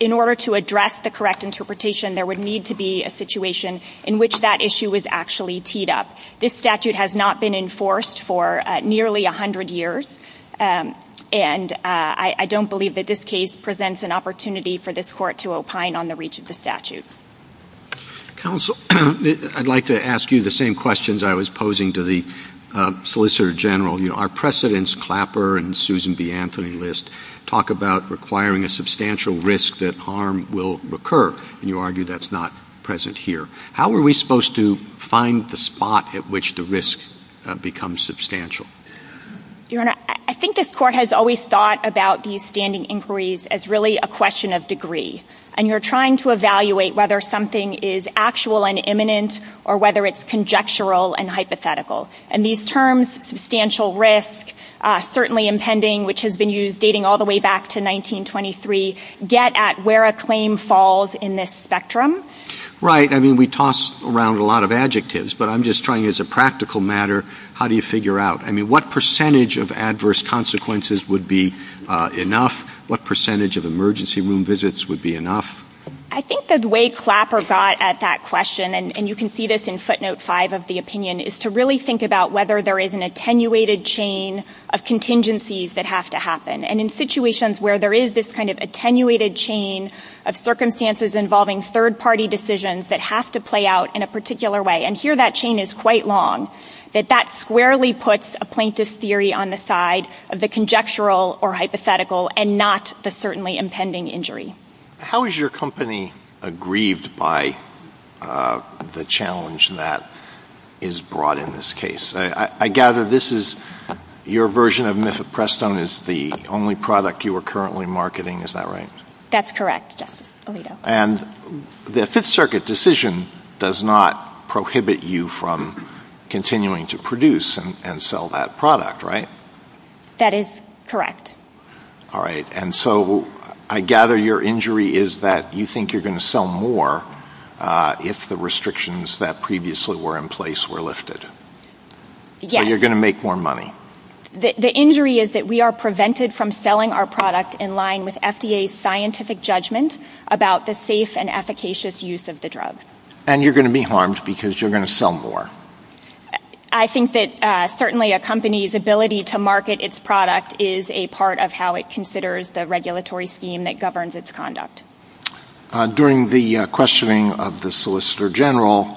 in order to address the correct interpretation, there would need to be a situation in which that issue was actually teed up. This statute has not been enforced for nearly 100 years, and I don't believe that this case presents an opportunity for this court to opine on the reach of the statute. Counsel, I'd like to ask you the same questions I was posing to the Solicitor General. Our precedents, Clapper and Susan B. Anthony List, talk about requiring a substantial risk that harm will occur, and you argue that's not present here. How are we supposed to find the spot at which the risk becomes substantial? Your Honor, I think this court has always thought about these standing inquiries as really a question of degree. And you're trying to evaluate whether something is actual and imminent or whether it's conjectural and hypothetical. And these terms, substantial risk, certainly impending, which has been used dating all the way back to 1923, get at where a claim falls in this spectrum. Right. I mean, we toss around a lot of adjectives, but I'm just trying, as a practical matter, how do you figure out? I mean, what percentage of adverse consequences would be enough? What percentage of emergency room visits would be enough? I think the way Clapper got at that question, and you can see this in footnote 5 of the opinion, is to really think about whether there is an attenuated chain of contingencies that have to happen. And in situations where there is this kind of attenuated chain of circumstances involving third-party decisions that have to play out in a particular way, and here that chain is quite long, that that squarely puts a plaintiff's theory on the side of the conjectural or hypothetical and not the certainly impending injury. How is your company aggrieved by the challenge that is brought in this case? I gather this is your version of Mifflin-Preston is the only product you are currently marketing, is that right? That's correct, Justice Alito. And the Fifth Circuit decision does not prohibit you from continuing to produce and sell that product, right? That is correct. All right. And so I gather your injury is that you think you're going to sell more if the restrictions that previously were in place were lifted? Yes. So you're going to make more money? The injury is that we are prevented from selling our product in line with FDA's scientific judgment about the safe and efficacious use of the drug. And you're going to be harmed because you're going to sell more? I think that certainly a company's ability to market its product is a part of how it considers the regulatory scheme that governs its conduct. During the questioning of the Solicitor General,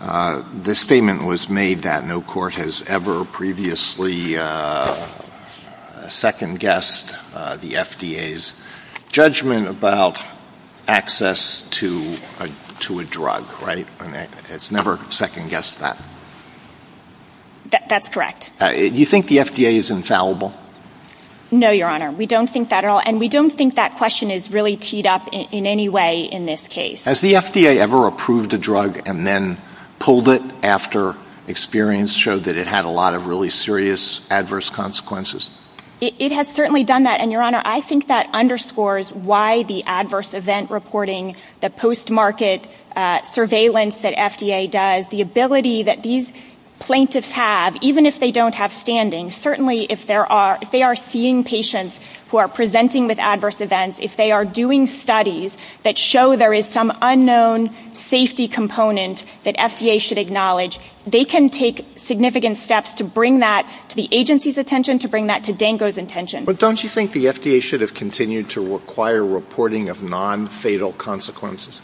the statement was made that no court has ever previously second-guessed the FDA's judgment about access to a drug, right? It's never second-guessed that. That's correct. Do you think the FDA is infallible? No, Your Honor. We don't think that at all. And we don't think that question is really teed up in any way in this case. Has the FDA ever approved a drug and then pulled it after experience showed that it had a lot of really serious adverse consequences? It has certainly done that. And, Your Honor, I think that underscores why the adverse event reporting, the post-market surveillance that FDA does, the ability that these plaintiffs have, even if they don't have standings, certainly if they are seeing patients who are presenting with adverse events, if they are doing studies that show there is some unknown safety component that FDA should acknowledge, they can take significant steps to bring that to the agency's attention, to bring that to DANGO's attention. But don't you think the FDA should have continued to require reporting of non-fatal consequences?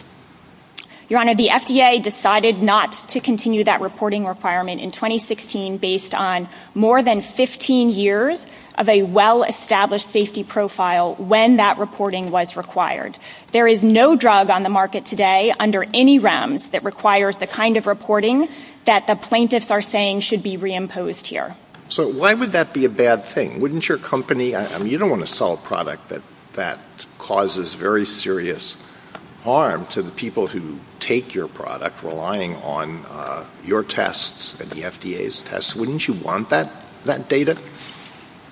Your Honor, the FDA decided not to continue that reporting requirement in 2016 based on more than 15 years of a well-established safety profile when that reporting was required. There is no drug on the market today under any realms that requires the kind of reporting that the plaintiffs are saying should be reimposed here. So why would that be a bad thing? Wouldn't your company, you don't want to sell a product that causes very serious harm to the people who take your product, relying on your tests and the FDA's tests. Wouldn't you want that data?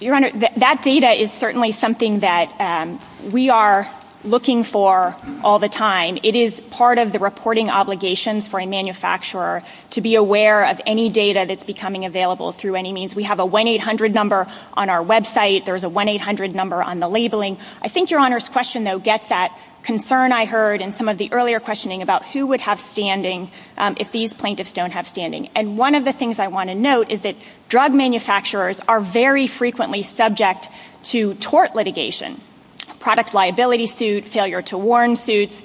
Your Honor, that data is certainly something that we are looking for all the time. It is part of the reporting obligations for a manufacturer to be aware of any data that is becoming available through any means. We have a 1-800 number on our website. There is a 1-800 number on the labeling. I think your Honor's question, though, gets at concern I heard in some of the earlier questioning about who would have standing if these plaintiffs don't have standing. One of the things I want to note is that drug manufacturers are very frequently subject to tort litigation, product liability suits, failure to warn suits,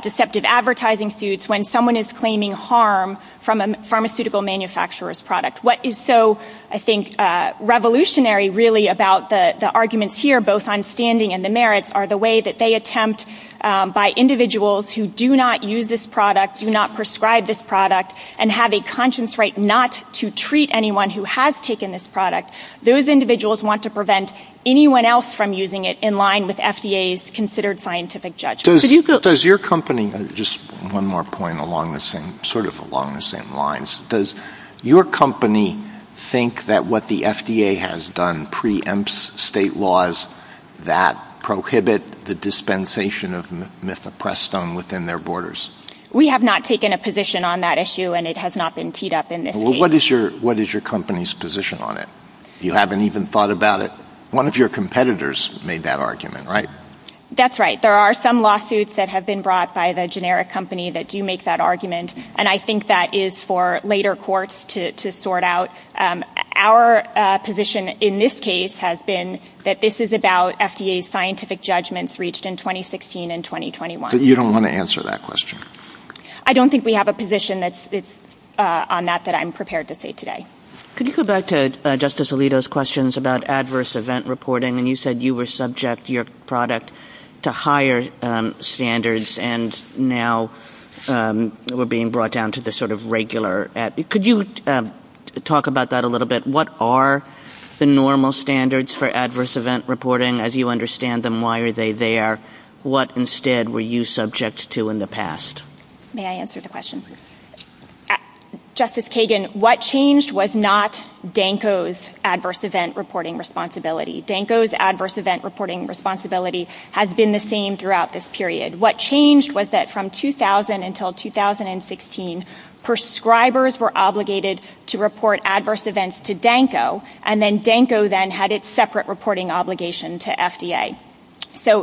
deceptive advertising suits, when someone is claiming harm from a pharmaceutical manufacturer's product. What is so, I think, revolutionary really about the arguments here, both on standing and the merits, are the way that they attempt by individuals who do not use this product, do not prescribe this product, and have a conscience right not to treat anyone who has taken this product. Those individuals want to prevent anyone else from using it in line with FDA's considered scientific judgment. Does your company, just one more point sort of along the same lines, does your company think that what the FDA has done preempts state laws that prohibit the dispensation of Mifeprestone within their borders? We have not taken a position on that issue and it has not been teed up in this case. Well, what is your company's position on it? You haven't even thought about it. One of your competitors made that argument, right? That's right. There are some lawsuits that have been brought by the generic company that do make that argument and I think that is for later courts to sort out. Our position in this case has been that this is about FDA's scientific judgments reached in 2016 and 2021. You don't want to answer that question? I don't think we have a position on that that I'm prepared to say today. Could you go back to Justice Alito's questions about adverse event reporting and you said you were subject to your product to higher standards and now we're being brought down to the sort of regular. Could you talk about that a little bit? What are the normal standards for adverse event reporting as you understand them? Why are they there? What instead were you subject to in the past? May I answer the question? Justice Kagan, what changed was not Danco's adverse event reporting responsibility. Danco's adverse event reporting responsibility has been the same throughout this period. What changed was that from 2000 until 2016, prescribers were obligated to report adverse events to Danco and then Danco then had its separate reporting obligation to FDA. So,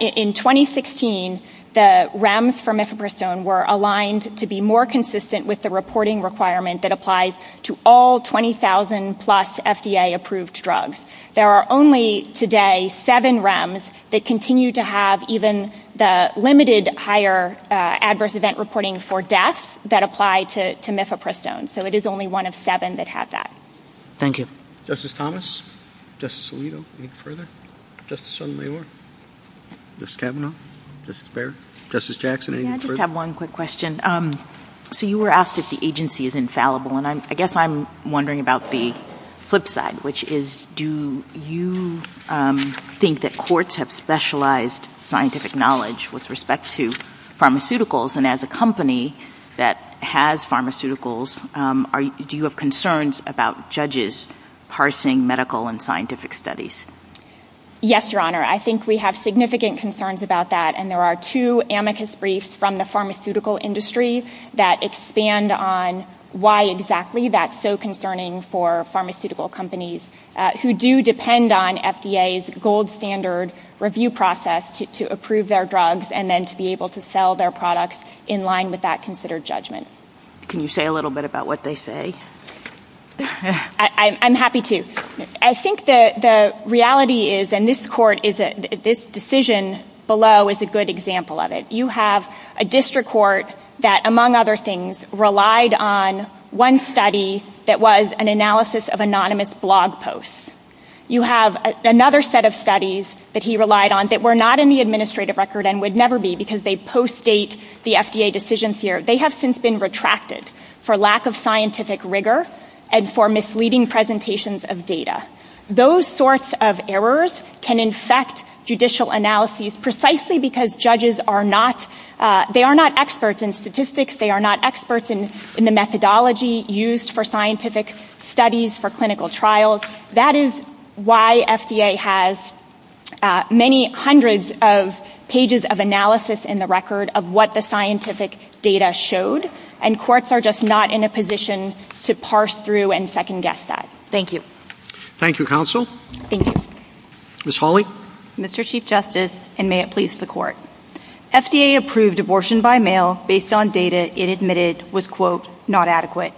in 2016, the REMs for mifepristone were aligned to be more consistent with the reporting requirement that applies to all 20,000 plus FDA approved drugs. There are only today seven REMs that continue to have even the limited higher adverse event reporting for deaths that apply to mifepristone. So, it is only one of seven that have that. Thank you. Justice Thomas? Justice Alito, any further? Justice O'Neill? Justice Kavanaugh? Justice Baird? Justice Jackson, any further? May I just have one quick question? So, you were asked if the agency is infallible and I guess I'm wondering about the flip side, which is do you think that courts have specialized scientific knowledge with respect to pharmaceuticals and as a company that has pharmaceuticals, do you have concerns about judges parsing medical and scientific studies? Yes, Your Honor. I think we have significant concerns about that and there are two amicus briefs from the pharmaceutical industry that expand on why exactly that's so concerning for pharmaceutical companies who do depend on FDA's gold standard review process to approve their drugs and then to be able to sell their products in line with that considered judgment. Can you say a little bit about what they say? I'm happy to. I think the reality is, and this court, this decision below is a good example of it. You have a district court that, among other things, relied on one study that was an analysis of anonymous blog posts. You have another set of studies that he relied on that were not in the administrative record and would never be because they post-date the FDA decisions here. They have since been retracted for lack of scientific rigor and for misleading presentations of data. Those sorts of errors can infect judicial analyses precisely because judges are not experts in statistics. They are not experts in the methodology used for scientific studies for clinical trials. That is why FDA has many hundreds of pages of analysis in the record of what the scientific data showed and courts are just not in a position to parse through and second-guess that. Thank you. Thank you, counsel. Thank you. Ms. Hawley? Mr. Chief Justice, and may it please the court. FDA approved abortion by mail based on data it admitted was, quote, not adequate.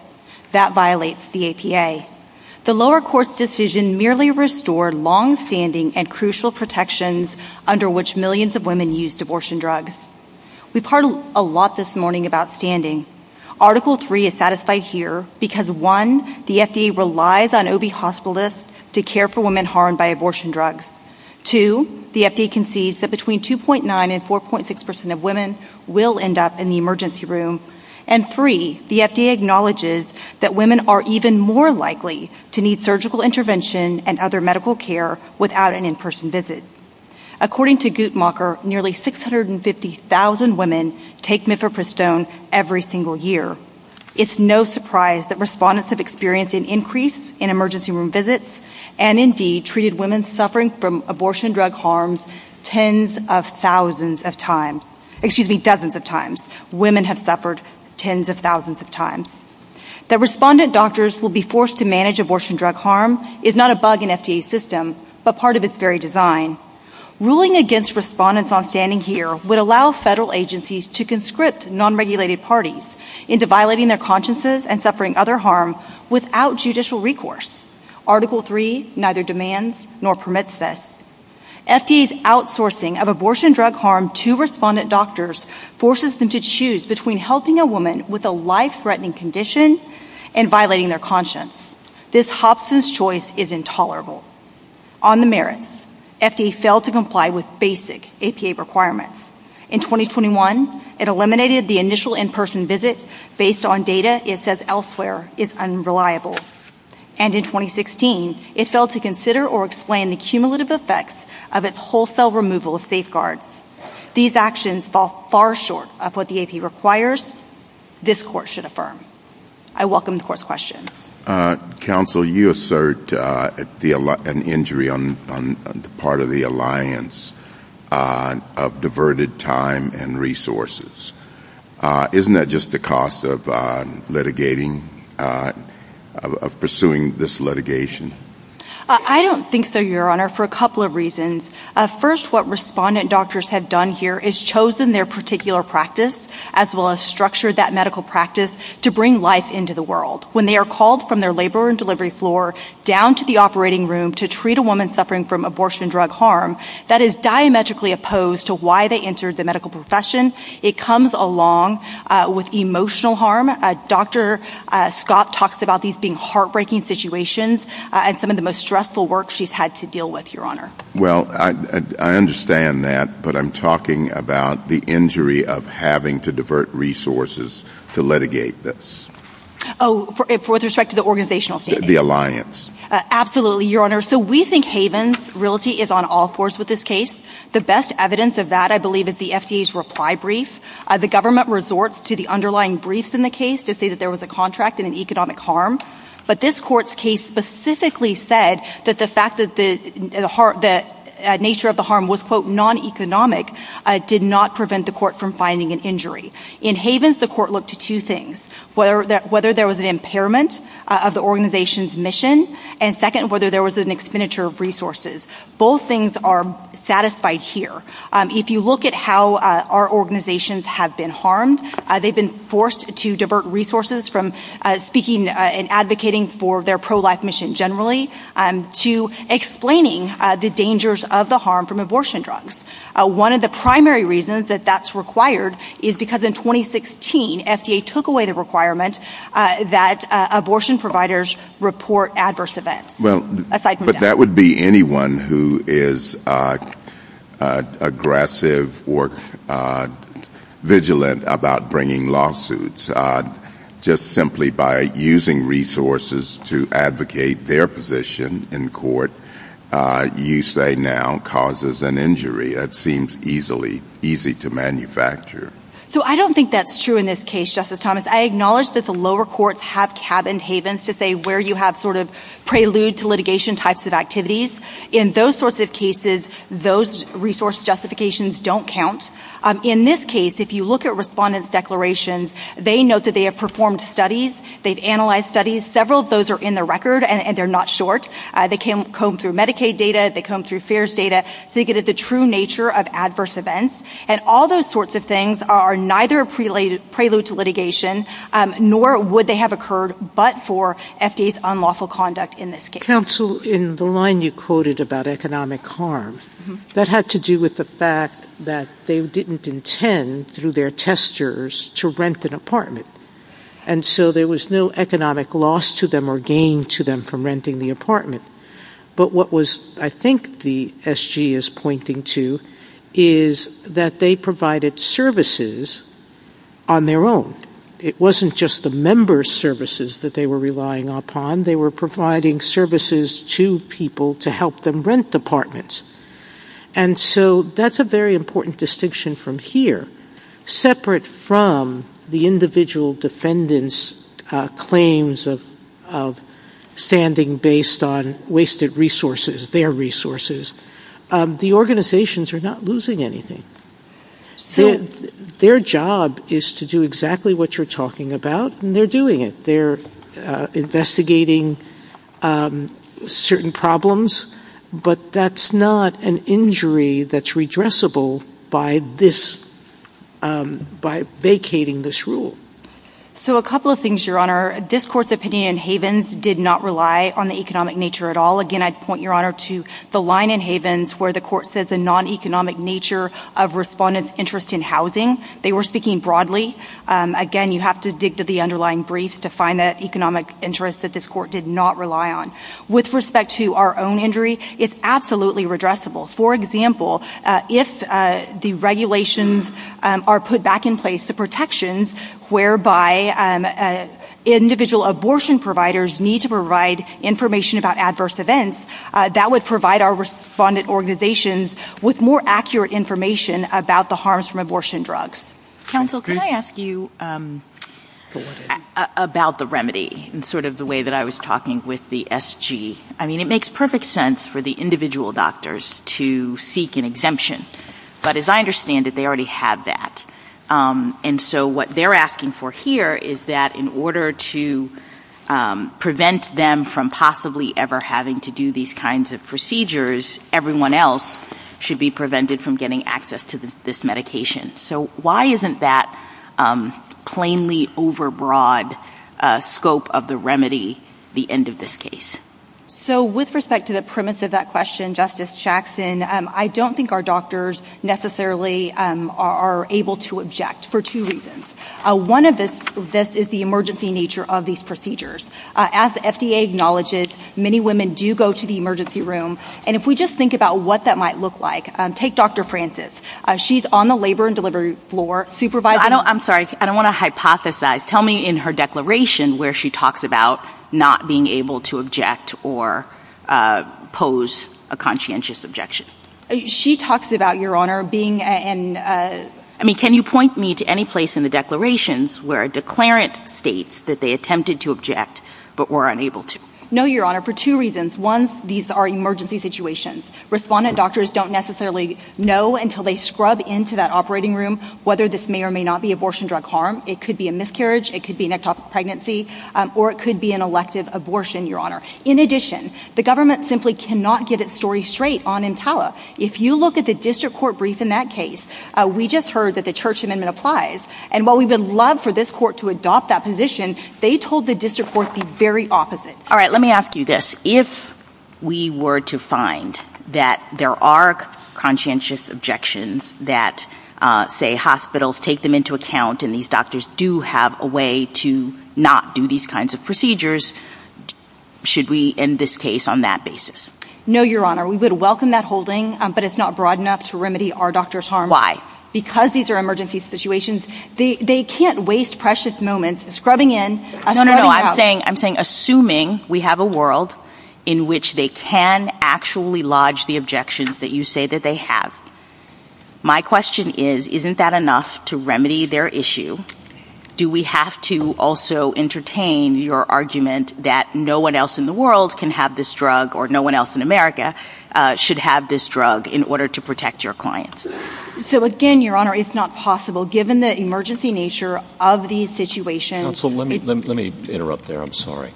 That violates the APA. The lower court's decision merely restored long-standing and crucial protections under which millions of women use abortion drugs. We've heard a lot this morning about standing. Article 3 is satisfied here because, one, the FDA relies on OB hospitalists to care for women harmed by abortion drugs. Two, the FDA concedes that between 2.9 and 4.6% of women will end up in the emergency room. And three, the FDA acknowledges that women are even more likely to need surgical intervention and other medical care without an in-person visit. According to Guttmacher, nearly 650,000 women take Mifepristone every single year. It's no surprise that respondents have experienced an increase in emergency room visits and, indeed, treated women suffering from abortion drug harms tens of thousands of times. Excuse me, dozens of times. Women have suffered tens of thousands of times. That respondent doctors will be forced to manage abortion drug harm is not a bug in Ruling against respondents on standing here would allow federal agencies to conscript non-regulated parties into violating their consciences and suffering other harm without judicial recourse. Article 3 neither demands nor permits this. FDA's outsourcing of abortion drug harm to respondent doctors forces them to choose between helping a woman with a life-threatening condition and violating their conscience. This Hobson's choice is intolerable. On the merits, FDA failed to comply with basic APA requirements. In 2021, it eliminated the initial in-person visit based on data it says elsewhere is unreliable. And in 2016, it failed to consider or explain the cumulative effects of its wholesale removal of safeguards. These actions fall far short of what the APA requires this court should affirm. I welcome the court's question. Counsel, you assert an injury on part of the alliance of diverted time and resources. Isn't that just the cost of litigating, of pursuing this litigation? I don't think so, your honor, for a couple of reasons. First, what respondent doctors have done here is chosen their particular practice as well as structure that medical practice to bring life into the world. When they are called from their labor and delivery floor down to the operating room to treat a woman suffering from abortion drug harm, that is diametrically opposed to why they entered the medical profession. It comes along with emotional harm. Dr. Scott talks about these being heartbreaking situations and some of the most stressful work she's had to deal with, your honor. Well, I understand that, but I'm talking about the injury of having to divert resources to litigate this. Oh, with respect to the organizational statement? The alliance. Absolutely, your honor. So we think Havens' realty is on all fours with this case. The best evidence of that, I believe, is the FDA's reply brief. The government resorts to the underlying briefs in the case to say that there was a contract and an economic harm. But this court's case specifically said that the fact that the nature of the harm was, quote, non-economic did not prevent the court from finding an injury. In Havens, the court looked to two things, whether there was an impairment of the organization's mission, and second, whether there was an expenditure of resources. Both things are satisfied here. If you look at how our organizations have been harmed, they've been forced to divert resources from speaking and advocating for their pro-life mission generally to explaining the dangers of the harm from abortion drugs. One of the primary reasons that that's required is because in 2016, FDA took away the requirement that abortion providers report adverse events. Well, but that would be anyone who is aggressive or vigilant about bringing lawsuits. Just simply by using resources to advocate their position in court, you say now causes an injury that seems easily easy to manufacture. So I don't think that's true in this case, Justice Thomas. I acknowledge that the lower courts have cabined Havens to say where you have sort of prelude to litigation types of activities. In those sorts of cases, those resource justifications don't count. In this case, if you look at respondents' declarations, they note that they have performed studies. They've analyzed studies. Several of those are in the record, and they're not short. They combed through Medicaid data. They combed through FAERS data to get at the true nature of adverse events, and all those sorts of things are neither prelude to litigation, nor would they have occurred but for FDA's unlawful conduct in this case. Counsel, in the line you quoted about economic harm, that had to do with the fact that they didn't intend through their testers to rent an apartment, and so there was no economic loss to them or gain to them from renting the apartment. But what was, I think, the SG is pointing to is that they provided services on their own. It wasn't just the member services that they were relying upon. They were providing services to people to help them rent apartments, and so that's a very important distinction from here. Separate from the individual defendant's claims of standing based on wasted resources, their resources, the organizations are not losing anything. Their job is to do exactly what you're talking about, and they're doing it. They're investigating certain problems, but that's not an injury that's redressable by this, by vacating this rule. So a couple of things, Your Honor. This court's opinion in Havens did not rely on the economic nature at all. Again, I'd point, Your Honor, to the line in Havens where the court said the non-economic nature of respondents' interest in housing. They were speaking broadly. Again, you have to dig to the underlying brief to find that economic interest that this court did not rely on. With respect to our own injury, it's absolutely redressable. For example, if the regulations are put back in place, the protections whereby individual abortion providers need to provide information about adverse events, that would provide our respondent organizations with more accurate information about the harms from abortion drugs. Counsel, can I ask you about the remedy in sort of the way that I was talking with the SG? I mean, it makes perfect sense for the individual doctors to seek an exemption. But as I understand it, they already have that. And so what they're asking for here is that in order to prevent them from possibly ever having to do these kinds of procedures, everyone else should be prevented from getting access to this medication. So why isn't that plainly overbroad scope of the remedy the end of this case? So with respect to the premise of that question, Justice Jackson, I don't think our doctors necessarily are able to object for two reasons. One of this is the emergency nature of these procedures. As the FDA acknowledges, many women do go to the emergency room. And if we just think about what that might look like, take Dr. Francis. She's on the labor and delivery floor supervising. I'm sorry. I don't want to hypothesize. Tell me in her declaration where she talks about not being able to object or pose a conscientious objection. She talks about, Your Honor, being in... I mean, can you point me to any place in the declarations where a declarant states that they attempted to object but were unable to? No, Your Honor, for two reasons. One, these are emergency situations. Respondent doctors don't necessarily know until they scrub into that operating room whether this may or may not be abortion drug harm. It could be a miscarriage. It could be an adult pregnancy. Or it could be an elective abortion, Your Honor. In addition, the government simply cannot get its story straight on EMTALA. If you look at the district court brief in that case, we just heard that the church amendment applies. And while we would love for this court to adopt that position, they told the district court the very opposite. All right, let me ask you this. If we were to find that there are conscientious objections that, say, hospitals take them into account and these doctors do have a way to not do these kinds of procedures, should we end this case on that basis? No, Your Honor. We would welcome that holding, but it's not broad enough to remedy our doctor's harm. Why? Because these are emergency situations. They can't waste precious moments scrubbing in... No, no, no, I'm saying assuming we have a world in which they can actually lodge the objections that you say that they have. My question is, isn't that enough to remedy their issue? Do we have to also entertain your argument that no one else in the world can have this drug or no one else in America should have this drug in order to protect your clients? So again, Your Honor, it's not possible. Given the emergency nature of the situation... Counsel, let me interrupt there. I'm sorry.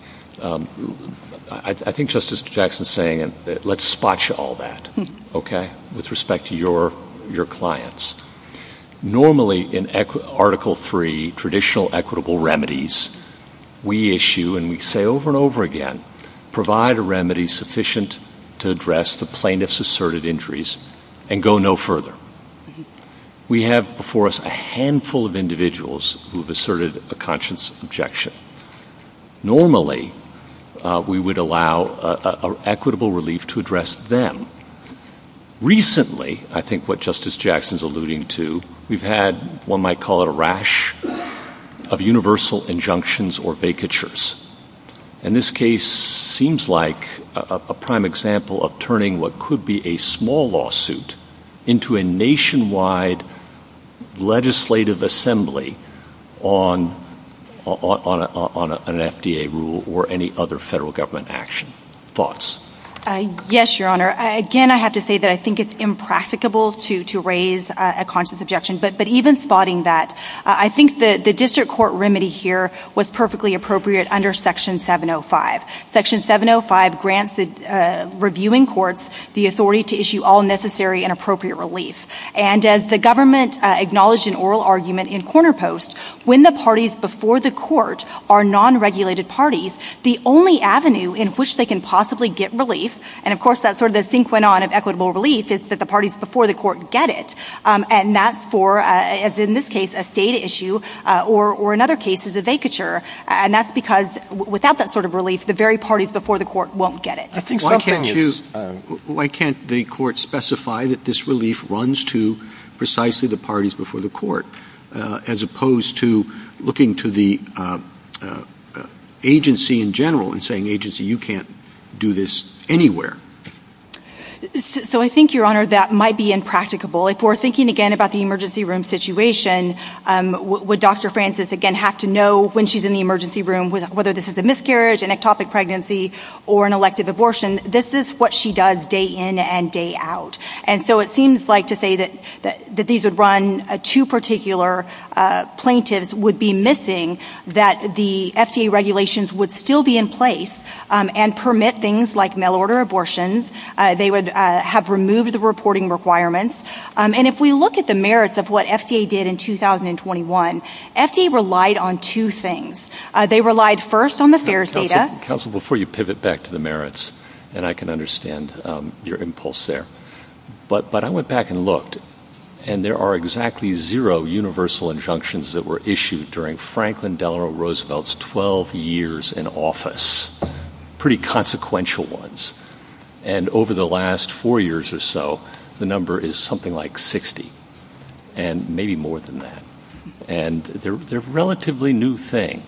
I think Justice Jackson's saying, let's spot you all that, okay, with respect to your clients. Normally, in Article III, traditional equitable remedies, we issue and we say over and over again, provide a remedy sufficient to address the plaintiff's asserted injuries and go no further. We have before us a handful of individuals who have asserted a conscious objection. Normally, we would allow equitable relief to address them. Recently, I think what Justice Jackson's alluding to, we've had one might call it a rash of universal injunctions or vacatures. And this case seems like a prime example of turning what could be a small lawsuit into a nationwide legislative assembly on an FDA rule or any other federal government action. Thoughts? Yes, Your Honor. Again, I have to say that I think it's impracticable to raise a conscious objection. But even spotting that, I think the district court remedy here was perfectly appropriate under Section 705. Section 705 grants the reviewing courts the authority to issue all necessary and appropriate relief. And as the government acknowledged in oral argument in Corner Post, when the parties before the court are non-regulated parties, the only avenue in which they can possibly get relief. And of course, that's where the thing went on of equitable relief is that the parties before the court get it. And that's for, as in this case, a state issue or another case is a vacature. And that's because without that sort of relief, the very parties before the court won't get it. Why can't the court specify that this relief runs to precisely the parties before the court, as opposed to looking to the agency in general and saying, agency, you can't do this anywhere? So I think, Your Honor, that might be impracticable. If we're thinking again about the emergency room situation, would Dr. Francis again have to know when she's in the emergency room whether this is a miscarriage, an ectopic pregnancy, or an elective abortion? This is what she does day in and day out. And so it seems like to say that these would run to particular plaintiffs would be missing that the FDA regulations would still be in place and permit things like mail order abortions. They would have removed the reporting requirements. And if we look at the merits of what FDA did in 2021, FDA relied on two things. They relied first on the FAERS data. Counsel, before you pivot back to the merits, and I can understand your impulse there. But I went back and looked, and there are exactly zero universal injunctions that were issued during Franklin Delano Roosevelt's 12 years in office, pretty consequential ones. And over the last four years or so, the number is something like 60, and maybe more than that. And they're a relatively new thing.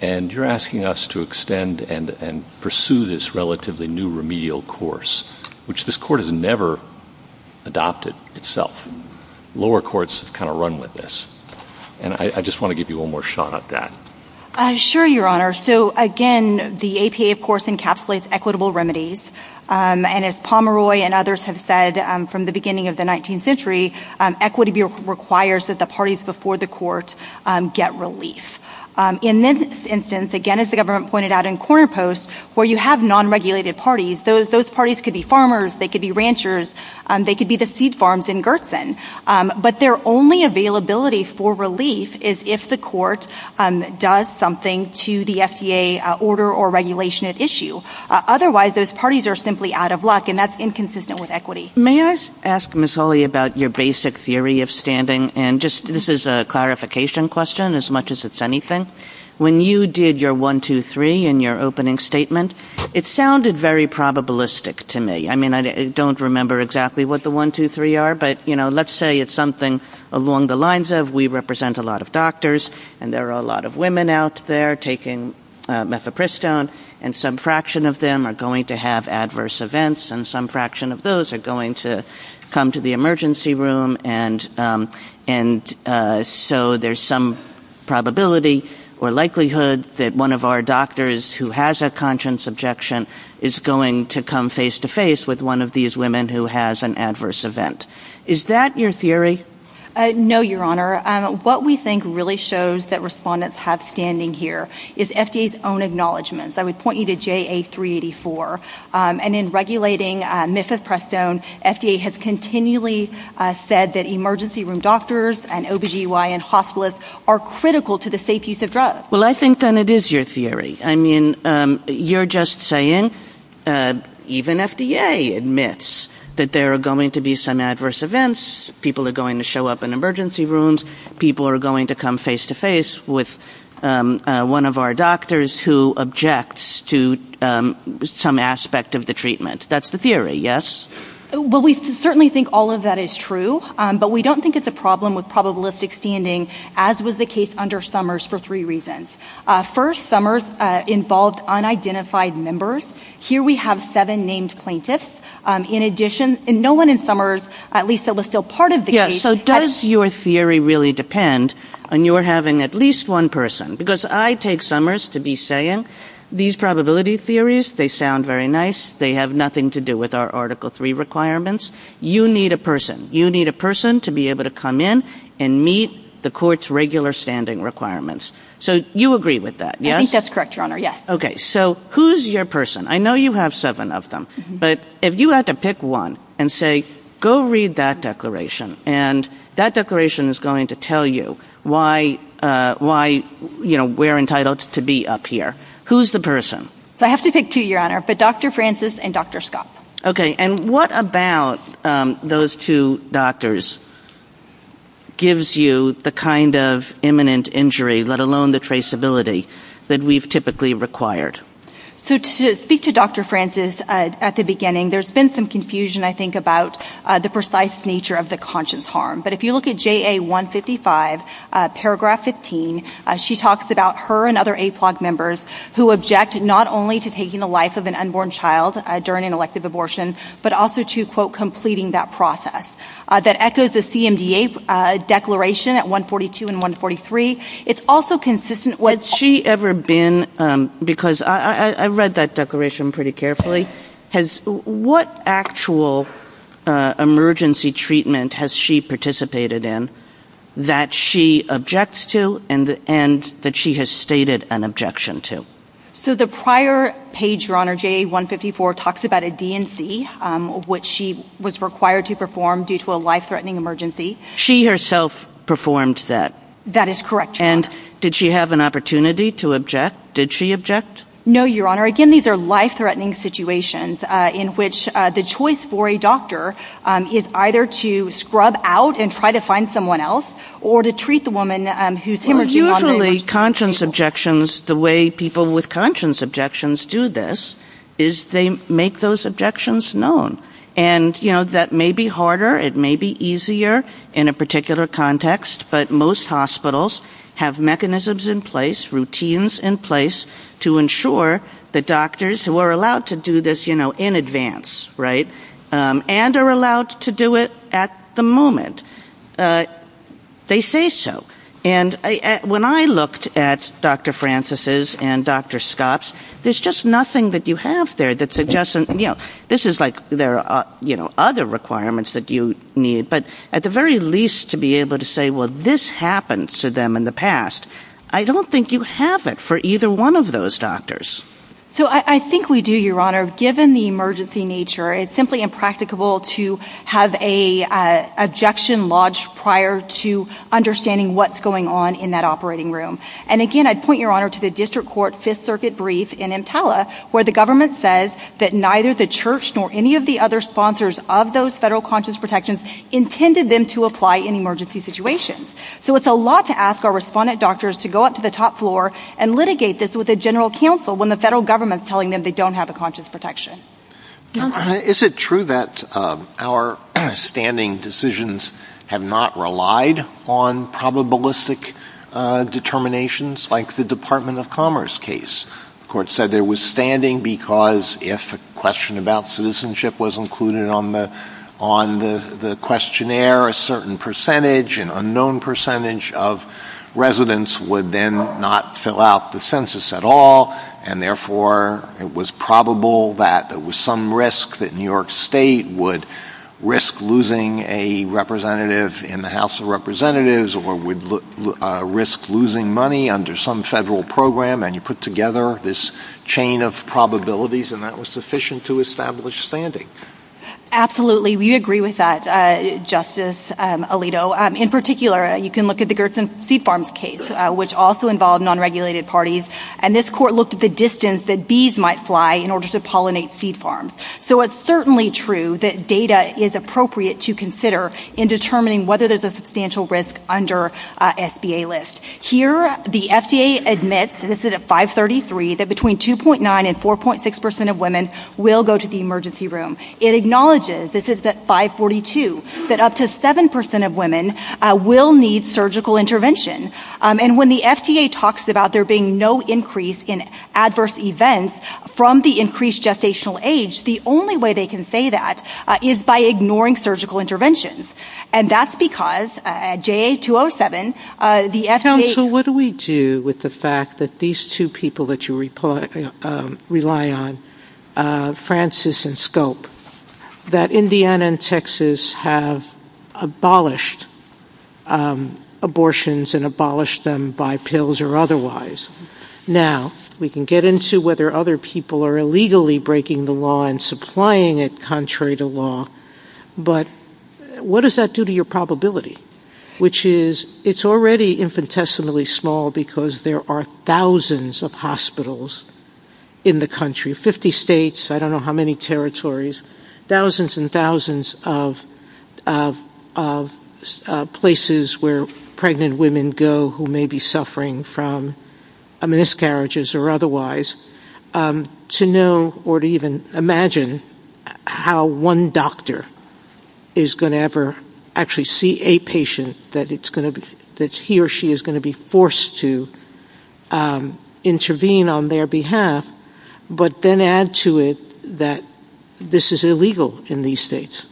And you're asking us to extend and pursue this relatively new remedial course, which this court has never adopted itself. Lower courts have kind of run with this. And I just want to give you one more shot at that. Sure, Your Honor. So again, the APA, of course, encapsulates equitable remedies. And as Pomeroy and others have said, from the beginning of the 19th century, equity requires that the parties before the court get relief. In this instance, again, as the government pointed out in corner posts, where you have non-regulated parties, those parties could be farmers. They could be ranchers. They could be the seed farms in Gerson. But their only availability for relief is if the court does something to the FDA order or regulation at issue. Otherwise, those parties are simply out of luck, and that's inconsistent with equity. May I ask, Ms. Hawley, about your basic theory of standing? And this is a clarification question, as much as it's anything. When you did your one, two, three in your opening statement, it sounded very probabilistic to me. I mean, I don't remember exactly what the one, two, three are. But, you know, let's say it's something along the lines of we represent a lot of doctors, and there are a lot of women out there taking methapristone, and some fraction of them are going to have adverse events, and some fraction of those are going to come to the emergency room. And so there's some probability or likelihood that one of our doctors who has a conscience objection is going to come face-to-face with one of these women who has an adverse event. Is that your theory? No, Your Honor. What we think really shows that respondents have standing here is FDA's own acknowledgments. I would point you to JA384. And in regulating methapristone, FDA has continually said that emergency room doctors and OBGY and hospitalists are critical to the safe use of drugs. Well, I think then it is your theory. I mean, you're just saying even FDA admits that there are going to be some adverse events, people are going to show up in emergency rooms, people are going to come face-to-face with one of our doctors who objects to some aspect of the treatment. That's the theory, yes? Well, we certainly think all of that is true, but we don't think it's a problem with probabilistic standing, as was the case under Summers for three reasons. First, Summers involved unidentified members. Here we have seven named plaintiffs. In addition, and no one in Summers, at least that was still part of the case. Does your theory really depend when you're having at least one person? Because I take Summers to be saying, these probability theories, they sound very nice, they have nothing to do with our Article III requirements. You need a person. You need a person to be able to come in and meet the court's regular standing requirements. So you agree with that, yes? I think that's correct, Your Honor, yes. Okay, so who's your person? I know you have seven of them, but if you had to pick one and say, go read that declaration, and that declaration is going to tell you why we're entitled to be up here. Who's the person? So I have to pick two, Your Honor, but Dr. Francis and Dr. Scott. Okay, and what about those two doctors gives you the kind of imminent injury, let alone the traceability, that we've typically required? So to speak to Dr. Francis at the beginning, there's been some confusion, I think, about the precise nature of the conscious harm. But if you look at JA 155, paragraph 15, she talks about her and other AAPLOG members who object not only to taking the life of an unborn child during an elective abortion, but also to, quote, completing that process. That echoes the CMDA declaration at 142 and 143. It's also consistent with- Has she ever been, because I read that declaration pretty carefully, has- what actual emergency treatment has she participated in that she objects to and that she has stated an objection to? So the prior page, Your Honor, JA 154 talks about a DNC, which she was required to perform due to a life-threatening emergency. She herself performed that? That is correct, Your Honor. And did she have an opportunity to object? Did she object? No, Your Honor. Again, these are life-threatening situations in which the choice for a doctor is either to scrub out and try to find someone else or to treat the woman who's- Well, usually, conscience objections, the way people with conscience objections do this is they make those objections known. And, you know, that may be harder. It may be easier in a particular context. But most hospitals have mechanisms in place, routines in place, to ensure that doctors who are allowed to do this, you know, in advance, right? And are allowed to do it at the moment. They say so. And when I looked at Dr. Francis's and Dr. Scott's, there's just nothing that you have there that suggests, you know, this is like there are, you know, other requirements that you need. But at the very least, to be able to say, well, this happened to them in the past, I don't think you have it for either one of those doctors. So I think we do, Your Honor. Given the emergency nature, it's simply impracticable to have an objection lodged prior to understanding what's going on in that operating room. And again, I'd point, Your Honor, to the District Court Fifth Circuit brief in Impella, where the government says that neither the church nor any of the other sponsors of those federal conscience protections intended them to apply in emergency situations. So it's a lot to ask our respondent doctors to go up to the top floor and litigate this with a general counsel when the federal government's telling them they don't have a conscience protection. Your Honor. Is it true that our standing decisions have not relied on probabilistic determinations like the Department of Commerce case? The court said there was standing because if a question about citizenship was included on the questionnaire, a certain percentage, an unknown percentage of residents would then not fill out the census at all. And therefore, it was probable that there was some risk that New York State would risk losing a representative in the House of Representatives or would risk losing money under some federal program. And you put together this chain of probabilities and that was sufficient to establish standing. Absolutely. We agree with that, Justice. Alito. In particular, you can look at the Gerson Seed Farms case, which also involved non-regulated parties. And this court looked at the distance that bees might fly in order to pollinate seed farms. So it's certainly true that data is appropriate to consider in determining whether there's a substantial risk under SBA list. Here, the FDA admits, and this is at 533, that between 2.9 and 4.6% of women will go to the emergency room. It acknowledges, this is at 542, that up to 7% of women will need surgical intervention. And when the FDA talks about there being no increase in adverse events from the increased gestational age, the only way they can say that is by ignoring surgical interventions. And that's because at JA-207, the FDA- Counsel, what do we do with the fact that these two people that you rely on, Francis and Scope, that Indiana and Texas have abolished abortions and abolished them by pills or otherwise. Now, we can get into whether other people are illegally breaking the law and supplying it contrary to law. But what does that do to your probability? Which is, it's already infinitesimally small because there are thousands of hospitals in the country. 50 states, I don't know how many territories. Thousands and thousands of places where pregnant women go who may be suffering from miscarriages or otherwise, to know or to even imagine how one doctor is going to ever actually see a patient that he or she is going to be forced to intervene on their behalf, but then add to it that this is illegal in these states.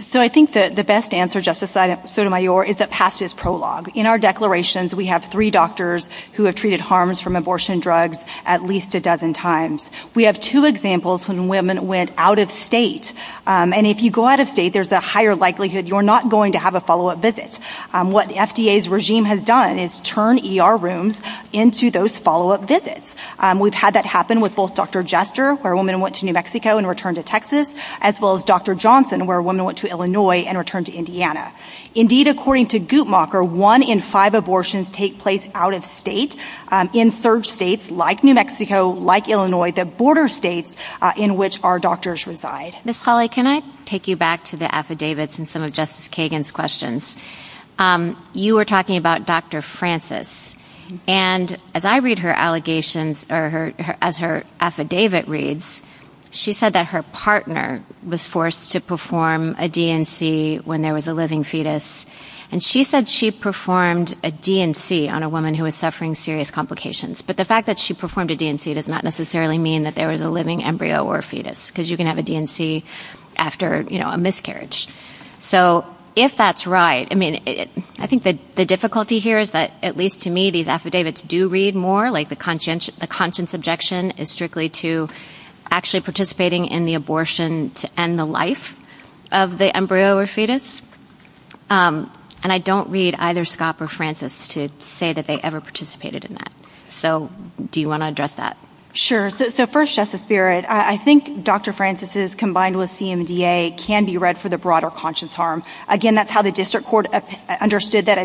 So I think that the best answer, Justice Sotomayor, is to pass this prologue. In our declarations, we have three doctors who have treated harms from abortion drugs at least a dozen times. We have two examples when women went out of state. And if you go out of state, there's a higher likelihood you're not going to have a follow-up visit. What the FDA's regime has done is turn ER rooms into those follow-up visits. We've had that happen with both Dr. Jester, where a woman went to New Mexico and returned to Texas, as well as Dr. Johnson, where a woman went to Illinois and returned to Indiana. Indeed, according to Guttmacher, one in five abortions take place out of state in third states like New Mexico, like Illinois, the border states in which our doctors reside. Ms. Hawley, can I take you back to the affidavits and some of Justice Kagan's questions? You were talking about Dr. Francis. And as I read her allegations, or as her affidavit reads, she said that her partner was forced to perform a DNC when there was a living fetus. And she said she performed a DNC on a woman who was suffering serious complications. But the fact that she performed a DNC does not necessarily mean that there was a living embryo or fetus, because you can have a DNC after, you know, a miscarriage. So if that's right, I mean, I think the difficulty here is that at least to me, these affidavits do read more, like the conscience objection is strictly to actually participating in the abortion to end the life of the embryo or fetus. And I don't read either Scott or Francis to say that they ever participated in that. So do you want to address that? Sure. So first, Justice Barrett, I think Dr. Francis's combined with CMDA can be read for the broader conscience harm. Again, that's how the district court understood that.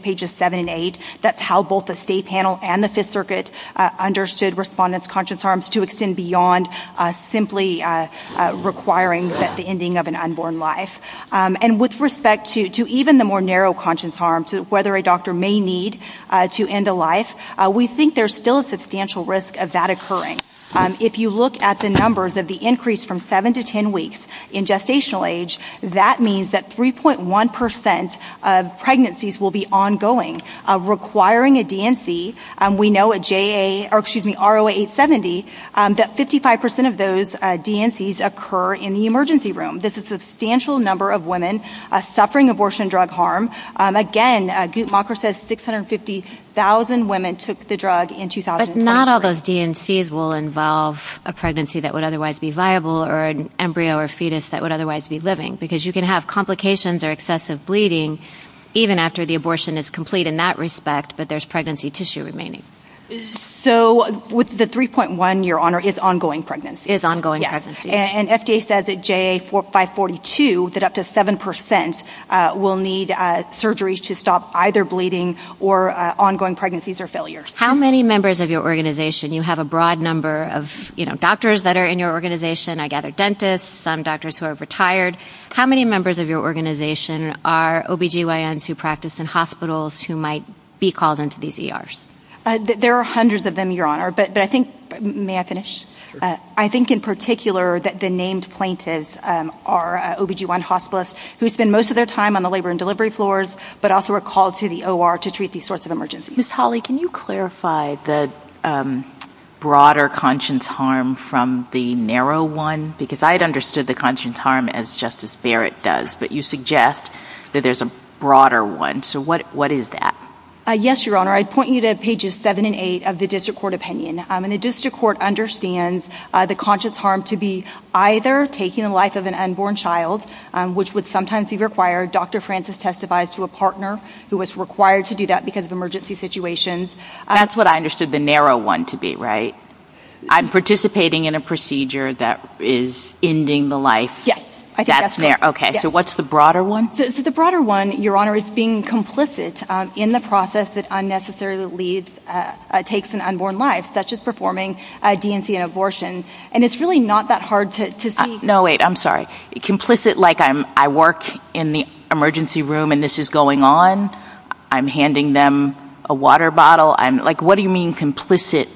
Pages seven and eight. That's how both the state panel and the Fifth Circuit understood respondents' conscience harms to extend beyond simply requiring the ending of an unborn life. And with respect to even the more narrow conscience harm, whether a doctor may need to end a life, we think there's still a substantial risk of that occurring. If you look at the numbers of the increase from seven to 10 weeks in gestational age, that means that 3.1% of pregnancies will be ongoing, requiring a DNC. We know at RO870, that 55% of those DNCs occur in the emergency room. This is a substantial number of women suffering abortion drug harm. Again, Guttmacher says 650,000 women took the drug in 2010. But not all those DNCs will involve a pregnancy that would otherwise be viable or an embryo or fetus that would otherwise be living, because you can have complications or excessive bleeding even after the abortion is complete in that respect, but there's pregnancy tissue remaining. So with the 3.1, Your Honor, it's ongoing pregnancy. It's ongoing pregnancy. And FDA says at JA542, that up to 7% will need surgery to stop either bleeding or ongoing pregnancies or failures. How many members of your organization, you have a broad number of, you know, doctors that are in your organization. I gather dentists, some doctors who are retired. How many members of your organization are OBGYNs who practice in hospitals, who might be called into these ERs? There are hundreds of them, Your Honor. But I think, may I finish? I think in particular, that the named plaintiffs are OBGYN hospitalists who spend most of their time on the labor and delivery floors, but also are called to the OR to treat these sorts of emergencies. Ms. Hawley, can you clarify the broader conscience harm from the narrow one? Because I'd understood the conscience harm as Justice Barrett does, but you suggest that there's a broader one. So what is that? Yes, Your Honor. I'd point you to pages seven and eight of the district court opinion. And the district court understands the conscience harm to be either taking the life of an unborn child, which would sometimes be required. Dr. Francis testifies to a partner who was required to do that because of emergency situations. That's what I understood the narrow one to be, right? I'm participating in a procedure that is ending the life. Yes. Okay, so what's the broader one? The broader one, Your Honor, is being complicit in the process that unnecessarily takes an unborn life, such as performing a DNC and abortion. And it's really not that hard to see. No, wait, I'm sorry. Complicit like I work in the emergency room and this is going on. I'm handing them a water bottle. I'm like, what do you mean complicit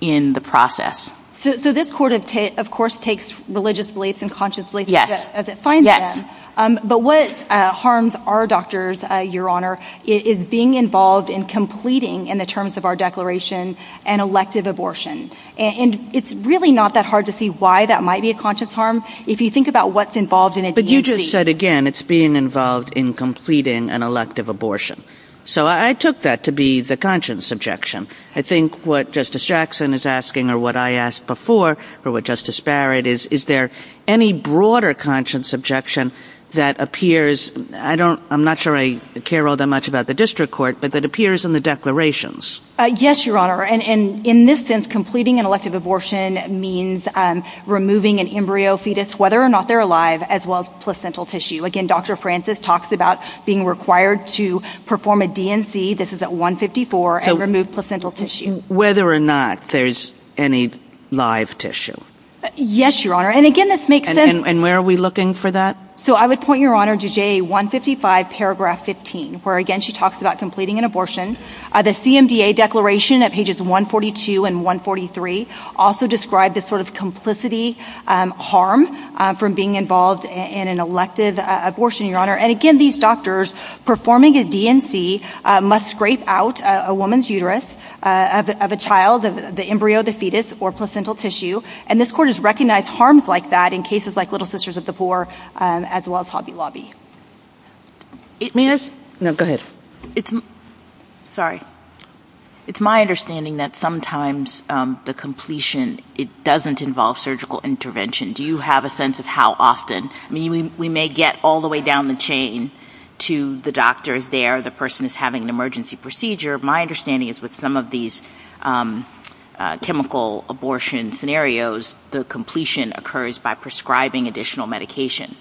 in the process? So this court, of course, takes religious beliefs as it finds them. But what harms our doctors, Your Honor, is being involved in completing in the terms of our declaration an elective abortion. And it's really not that hard to see why that might be a conscious harm. If you think about what's involved in a DNC. But you just said again, it's being involved in completing an elective abortion. So I took that to be the conscience objection. I think what Justice Jackson is asking or what I asked before or what Justice Barrett is, is there any broader conscience objection that appears? I don't I'm not sure I care all that much about the district court, but that appears in the declarations. Yes, Your Honor. And in this sense, completing an elective abortion means removing an embryo fetus, whether or not they're alive, as well as placental tissue. Again, Dr. Francis talks about being required to perform a DNC. This is at 154 and remove placental tissue. Whether or not there's any live tissue. Yes, Your Honor. And again, this makes sense. And where are we looking for that? So I would point, Your Honor, to J 155, paragraph 15, where again, she talks about completing an abortion. The CMDA declaration at pages 142 and 143 also described this sort of complicity harm from being involved in an elective abortion, Your Honor. And again, these doctors performing a DNC must scrape out a woman's uterus of a child of the embryo, the fetus or placental tissue. This court has recognized harms like that in cases like Little Sisters of the Poor, as well as Hobby Lobby. Eight minutes? No, go ahead. Sorry. It's my understanding that sometimes the completion, it doesn't involve surgical intervention. Do you have a sense of how often? I mean, we may get all the way down the chain to the doctor there. The person is having an emergency procedure. My understanding is with some of these chemical abortion scenarios, the completion occurs by prescribing additional medication.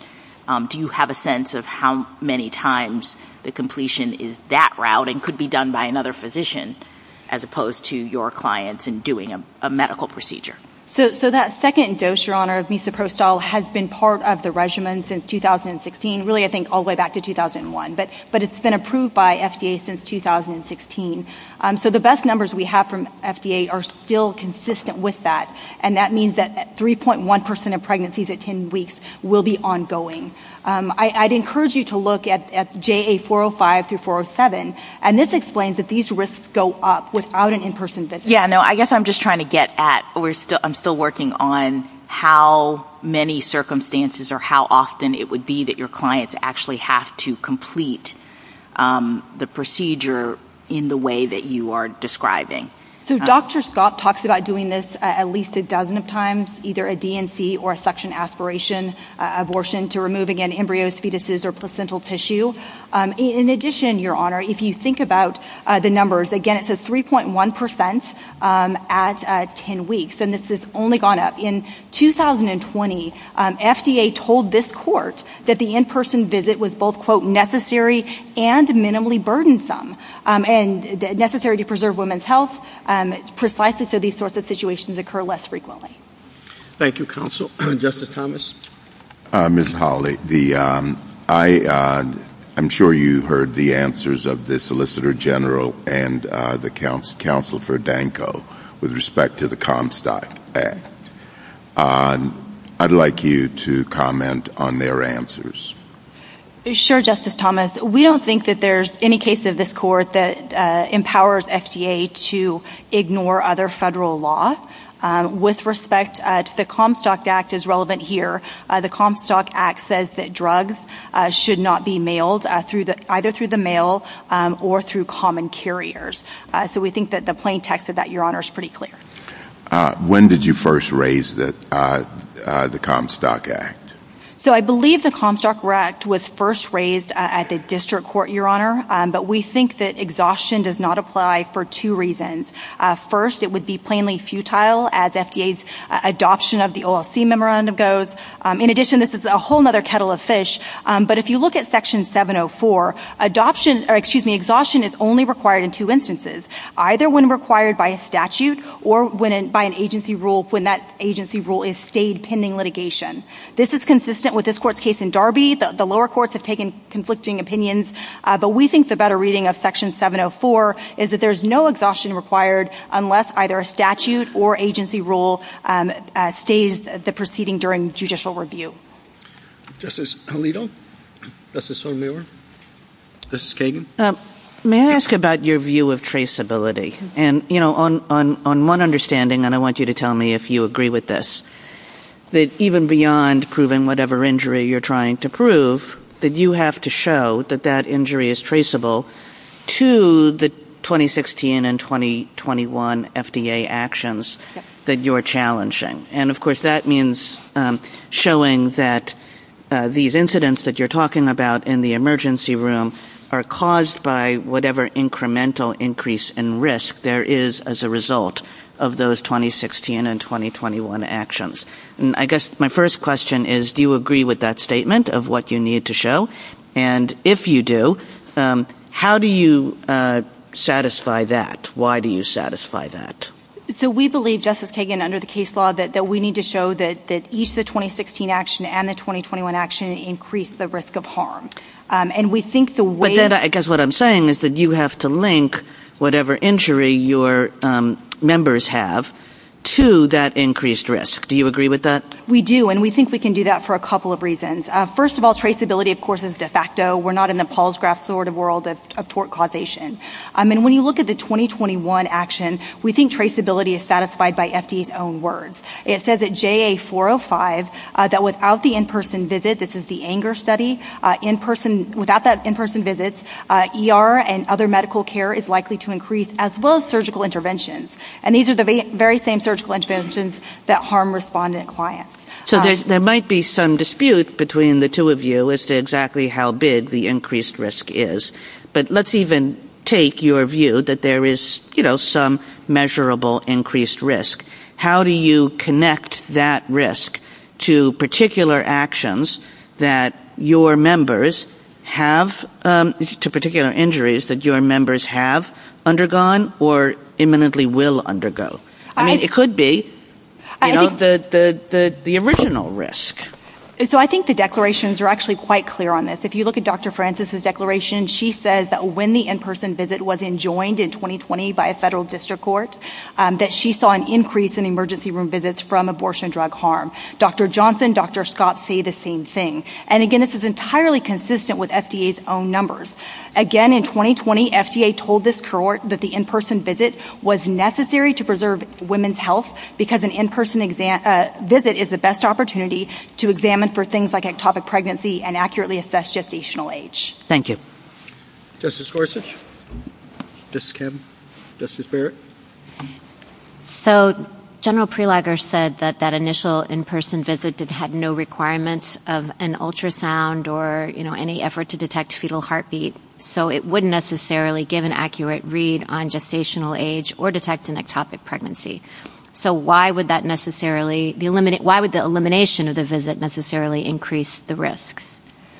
Do you have a sense of how many times the completion is that route and could be done by another physician as opposed to your clients and doing a medical procedure? So that second dose, Your Honor, of Misoprostol has been part of the regimen since 2016. Really, I think all the way back to 2001, but it's been approved by FDA since 2016. So the best numbers we have from FDA are still consistent with that. And that means that 3.1% of pregnancies at 10 weeks will be ongoing. I'd encourage you to look at JA 405 through 407. And this explains that these risks go up without an in-person visit. Yeah, no, I guess I'm just trying to get at, I'm still working on how many circumstances or how often it would be that your clients actually have to complete the procedure in the way that you are describing. So Dr. Scott talks about doing this at least a dozen of times, either a DNC or a suction aspiration abortion to remove, again, embryos, fetuses, or placental tissue. In addition, Your Honor, if you think about the numbers, again, it's a 3.1% at 10 weeks, and this has only gone up. In 2020, FDA told this court that the in-person visit was both, quote, necessary and minimally burdensome and necessary to preserve women's health, precisely so these sorts of situations occur less frequently. Thank you, counsel. Justice Thomas. Ms. Hawley, I'm sure you heard the answers of the Solicitor General and the counsel for Danko with respect to the Comstock Act. I'd like you to comment on their answers. Sure, Justice Thomas. We don't think that there's any case of this court that empowers FDA to ignore other federal law. With respect to the Comstock Act as relevant here, the Comstock Act says that drugs should not be mailed either through the mail or through common carriers. So we think that the plain text of that, Your Honor, is pretty clear. When did you first raise the Comstock Act? I believe the Comstock Act was first raised at the district court, Your Honor, but we think that exhaustion does not apply for two reasons. First, it would be plainly futile as FDA's adoption of the OLC Memorandum goes. In addition, this is a whole other kettle of fish, but if you look at Section 704, adoption or, excuse me, exhaustion is only required in two instances, either when required by a statute or when by an agency rule when that agency rule is stayed pending litigation. This is consistent with this court's case in Darby. The lower courts have taken conflicting opinions, but we think the better reading of Section 704 is that there's no exhaustion required unless either a statute or agency rule stays the proceeding during judicial review. Justice Alito? Justice O'Neill? Justice Kagan? May I ask about your view of traceability? And, you know, on one understanding, and I want you to tell me if you agree with this, that even beyond proving whatever injury you're trying to prove, that you have to show that that injury is traceable to the 2016 and 2021 FDA actions that you're challenging. And, of course, that means showing that these incidents that you're talking about in the emergency room are caused by whatever incremental increase in risk there is as a result of those 2016 and 2021 actions. And I guess my first question is, do you agree with that statement of what you need to show? And if you do, how do you satisfy that? Why do you satisfy that? So we believe, Justice Kagan, under the case law that we need to show that each of the 2016 action and the 2021 action increase the risk of harm. And we think the way... But then I guess what I'm saying is that you have to link whatever injury your members have to that increased risk. Do you agree with that? We do, and we think we can do that for a couple of reasons. First of all, traceability, of course, is de facto. We're not in the Paul's graph sort of world of tort causation. I mean, when you look at the 2021 action, we think traceability is satisfied by FDA's own words. It says that JA405, that without the in-person visit, this is the ANGER study, without that in-person visits, ER and other medical care is likely to increase as well as surgical interventions. And these are the very same surgical interventions that harm respondent clients. So there might be some dispute between the two of you as to exactly how big the increased risk is. But let's even take your view that there is some measurable increased risk. How do you connect that risk to particular actions that your members have, to particular injuries that your members have undergone or imminently will undergo? I mean, it could be the original risk. And so I think the declarations are actually quite clear on this. If you look at Dr. Francis's declaration, she says that when the in-person visit was enjoined in 2020 by a federal district court, that she saw an increase in emergency room visits from abortion drug harm. Dr. Johnson, Dr. Scott say the same thing. And again, this is entirely consistent with FDA's own numbers. Again, in 2020, FDA told this court that the in-person visit was necessary to preserve women's health because an in-person visit is the best opportunity to examine for things like ectopic pregnancy and accurately assess gestational age. Thank you. Justice Gorsuch, Justice Kim, Justice Barrett. So General Prelager said that that initial in-person visit had no requirements of an ultrasound or any effort to detect fetal heartbeat. So it wouldn't necessarily give an accurate read on gestational age or detect an ectopic pregnancy. So why would that necessarily... Why would the elimination of the visit necessarily increase the risk?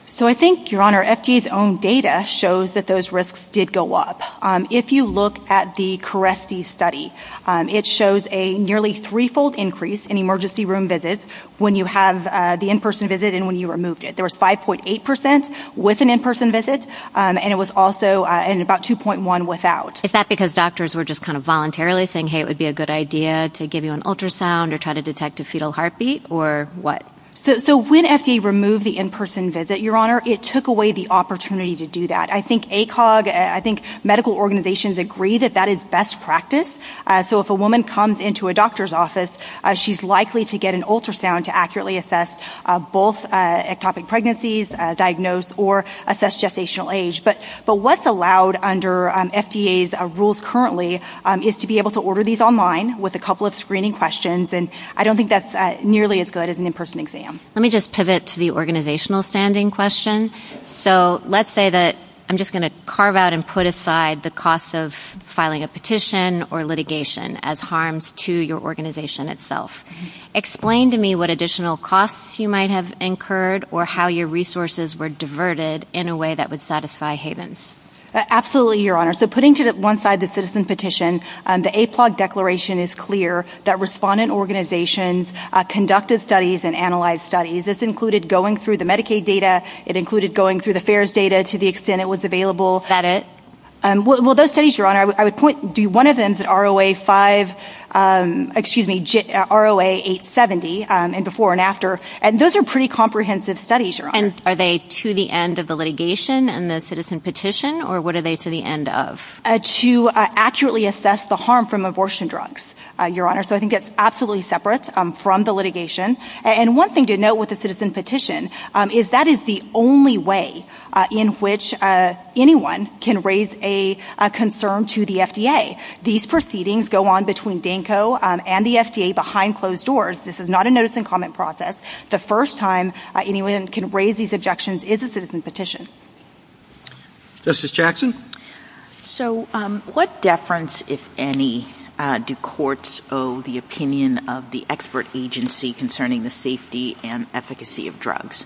So I think, Your Honor, FDA's own data shows that those risks did go up. If you look at the CARES-D study, it shows a nearly threefold increase in emergency room visits when you have the in-person visit and when you removed it. There was 5.8% with an in-person visit and it was also in about 2.1% without. Is that because doctors were just kind of voluntarily saying, hey, it would be a good idea to give you an ultrasound or try to detect a fetal heartbeat or what? So when FDA removed the in-person visit, Your Honor, it took away the opportunity to do that. I think ACOG, I think medical organizations agree that that is best practice. So if a woman comes into a doctor's office, she's likely to get an ultrasound to accurately assess both ectopic pregnancies, diagnose or assess gestational age. But what's allowed under FDA's rules currently is to be able to order these online with a couple of screening questions. And I don't think that's nearly as good as an in-person exam. Let me just pivot to the organizational standing question. So let's say that I'm just going to carve out and put aside the cost of filing a petition or litigation as harms to your organization itself. Explain to me what additional costs you might have incurred or how your resources were diverted in a way that would satisfy havens. Absolutely, Your Honor. So putting to one side the citizen petition, the APOG declaration is clear that respondent organizations conducted studies and analyzed studies. This included going through the Medicaid data. It included going through the FAERS data to the extent it was available. Is that it? Well, those studies, Your Honor, I would point to one of them is ROA 5, excuse me, ROA 870, and before and after. And those are pretty comprehensive studies, Your Honor. Are they to the end of the litigation and the citizen petition, or what are they to the end of? To accurately assess the harm from abortion drugs, Your Honor. So I think it's absolutely separate from the litigation. And one thing to note with the citizen petition is that is the only way in which anyone can raise a concern to the FDA. These proceedings go on between DANCO and the FDA behind closed doors. This is not a notice and comment process. The first time anyone can raise these objections is a citizen petition. Justice Jackson? So what deference, if any, do courts owe the opinion of the expert agency concerning the safety and efficacy of drugs?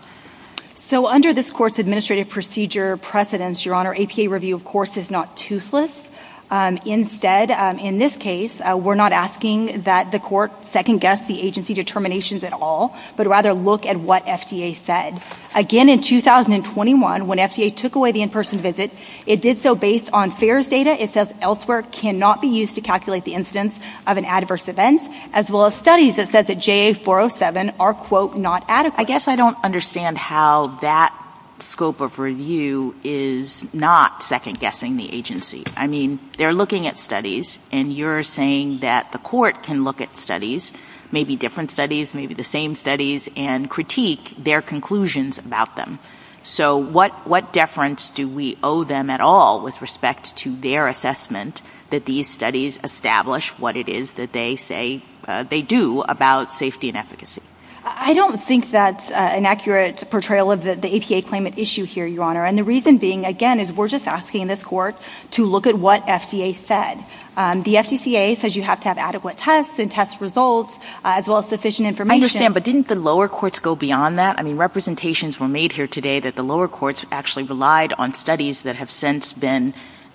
So under this court's administrative procedure precedence, Your Honor, APA review, of course, is not toothless. Instead, in this case, we're not asking that the court second-guess the agency determinations at all, but rather look at what FDA said. Again, in 2021, when FDA took away the in-person visit, it did so based on FAERS data. It says elsewhere cannot be used to calculate the incidence of an adverse event, as well as studies that said that JA407 are, quote, not adequate. I guess I don't understand how that scope of review is not second-guessing the agency. I mean, they're looking at studies, and you're saying that the court can look at studies, maybe different studies, maybe the same studies, and critique their conclusions about them. So what deference do we owe them at all with respect to their assessment that these studies establish what it is that they say they do about safety and efficacy? I don't think that's an accurate portrayal of the APA claimant issue here, Your Honor. And the reason being, again, is we're just asking this court to look at what FDA said. The FCCA says you have to have adequate tests and test results, as well as sufficient information. I understand, but didn't the lower courts go beyond that? I mean, representations were made here today that the lower courts actually relied on studies that have since been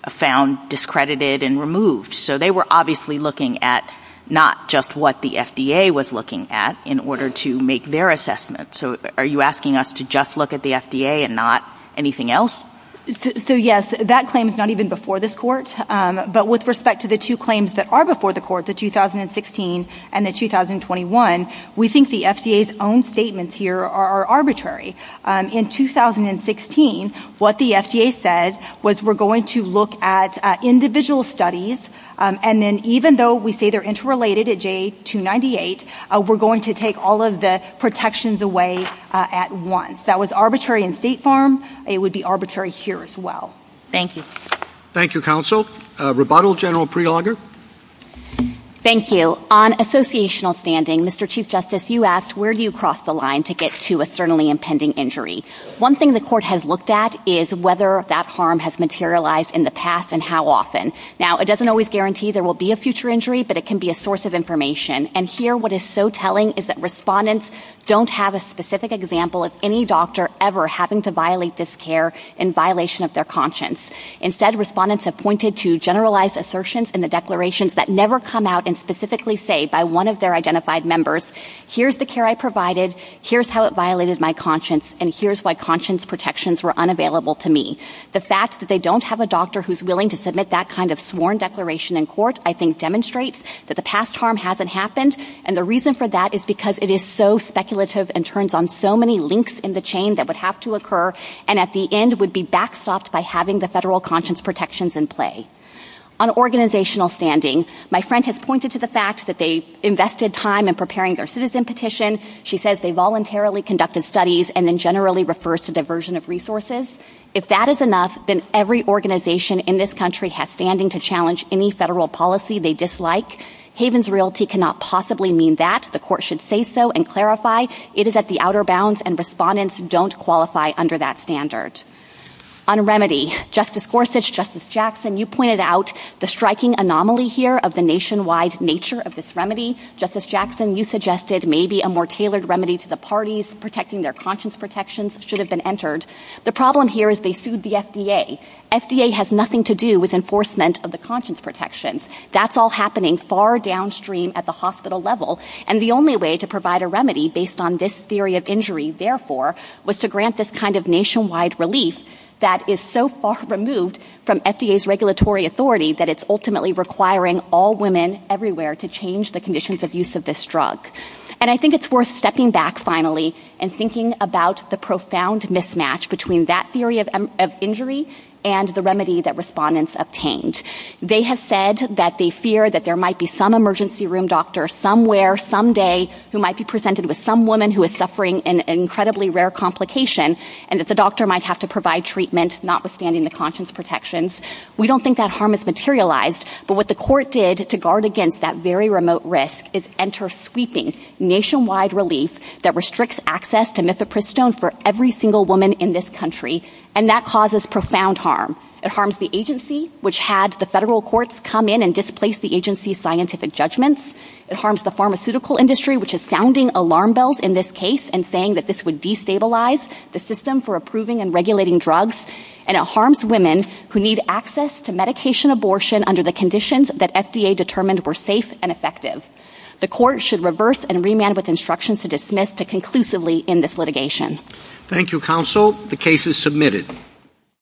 found discredited and removed. So they were obviously looking at not just what the FDA was looking at in order to make their assessment. So are you asking us to just look at the FDA and not anything else? So yes, that claim is not even before this court. But with respect to the two claims that are before the court, the 2016 and the 2021, we think the FDA's own statements here are arbitrary. In 2016, what the FDA said was we're going to look at individual studies. And then even though we say they're interrelated at J298, we're going to take all of the protections away at once. That was arbitrary in State Farm. It would be arbitrary here as well. Thank you. Thank you, counsel. Rebuttal, General Prelogar? Thank you. On associational standing, Mr. Chief Justice, you asked where do you cross the line to get to a sternly impending injury? One thing the court has looked at is whether that harm has materialized in the past and how often. Now, it doesn't always guarantee there will be a future injury, but it can be a source of information. And here, what is so telling is that respondents don't have a specific example of any doctor ever having to violate this care in violation of their conscience. Instead, respondents have pointed to generalized assertions in the declarations that never come out and specifically say by one of their identified members, here's the care I provided, here's how it violated my conscience, and here's why conscience protections were unavailable to me. The fact that they don't have a doctor who's willing to submit that kind of sworn declaration in court, I think demonstrates that the past harm hasn't happened. And the reason for that is because it is so speculative and turns on so many links in the chain that would have to occur and at the end would be backstopped by having the federal conscience protections in play. On organizational standing, my friend has pointed to the fact that they invested time in preparing their citizen petition. She says they voluntarily conducted studies and then generally refers to diversion of resources. If that is enough, then every organization in this country has standing to challenge any federal policy they dislike. Havens Realty cannot possibly mean that. The court should say so and clarify. It is at the outer bounds and respondents don't qualify under that standard. On remedy, Justice Gorsuch, Justice Jackson, you pointed out the striking anomaly here of the nationwide nature of this remedy. Justice Jackson, you suggested maybe a more tailored remedy to the parties protecting their conscience protections should have been entered. The problem here is they sued the FDA. FDA has nothing to do with enforcement of the conscience protections. That's all happening far downstream at the hospital level. And the only way to provide a remedy based on this theory of injury, therefore, was to grant this kind of nationwide release that is so far removed from FDA's regulatory authority that it's ultimately requiring all women everywhere to change the conditions of use of this drug. And I think it's worth stepping back finally and thinking about the profound mismatch between that theory of injury and the remedy that respondents obtained. They have said that they fear that there might be some emergency room doctor somewhere someday who might be presented with some woman who is suffering an incredibly rare complication and that the doctor might have to provide treatment notwithstanding the conscience protections. We don't think that harm is materialized, but what the court did to guard against that very remote risk is enter sweeping nationwide relief that restricts access to Mifepristone for every single woman in this country. And that causes profound harm. It harms the agency, which had the federal courts come in and displace the agency's scientific judgments. It harms the pharmaceutical industry, which is sounding alarm bells in this case and saying that this would destabilize the system for approving and regulating drugs. And it harms women who need access to medication abortion under the conditions that FDA determined were safe and effective. The court should reverse and remand with instructions to dismiss to conclusively in this litigation. Thank you, counsel. The case is submitted.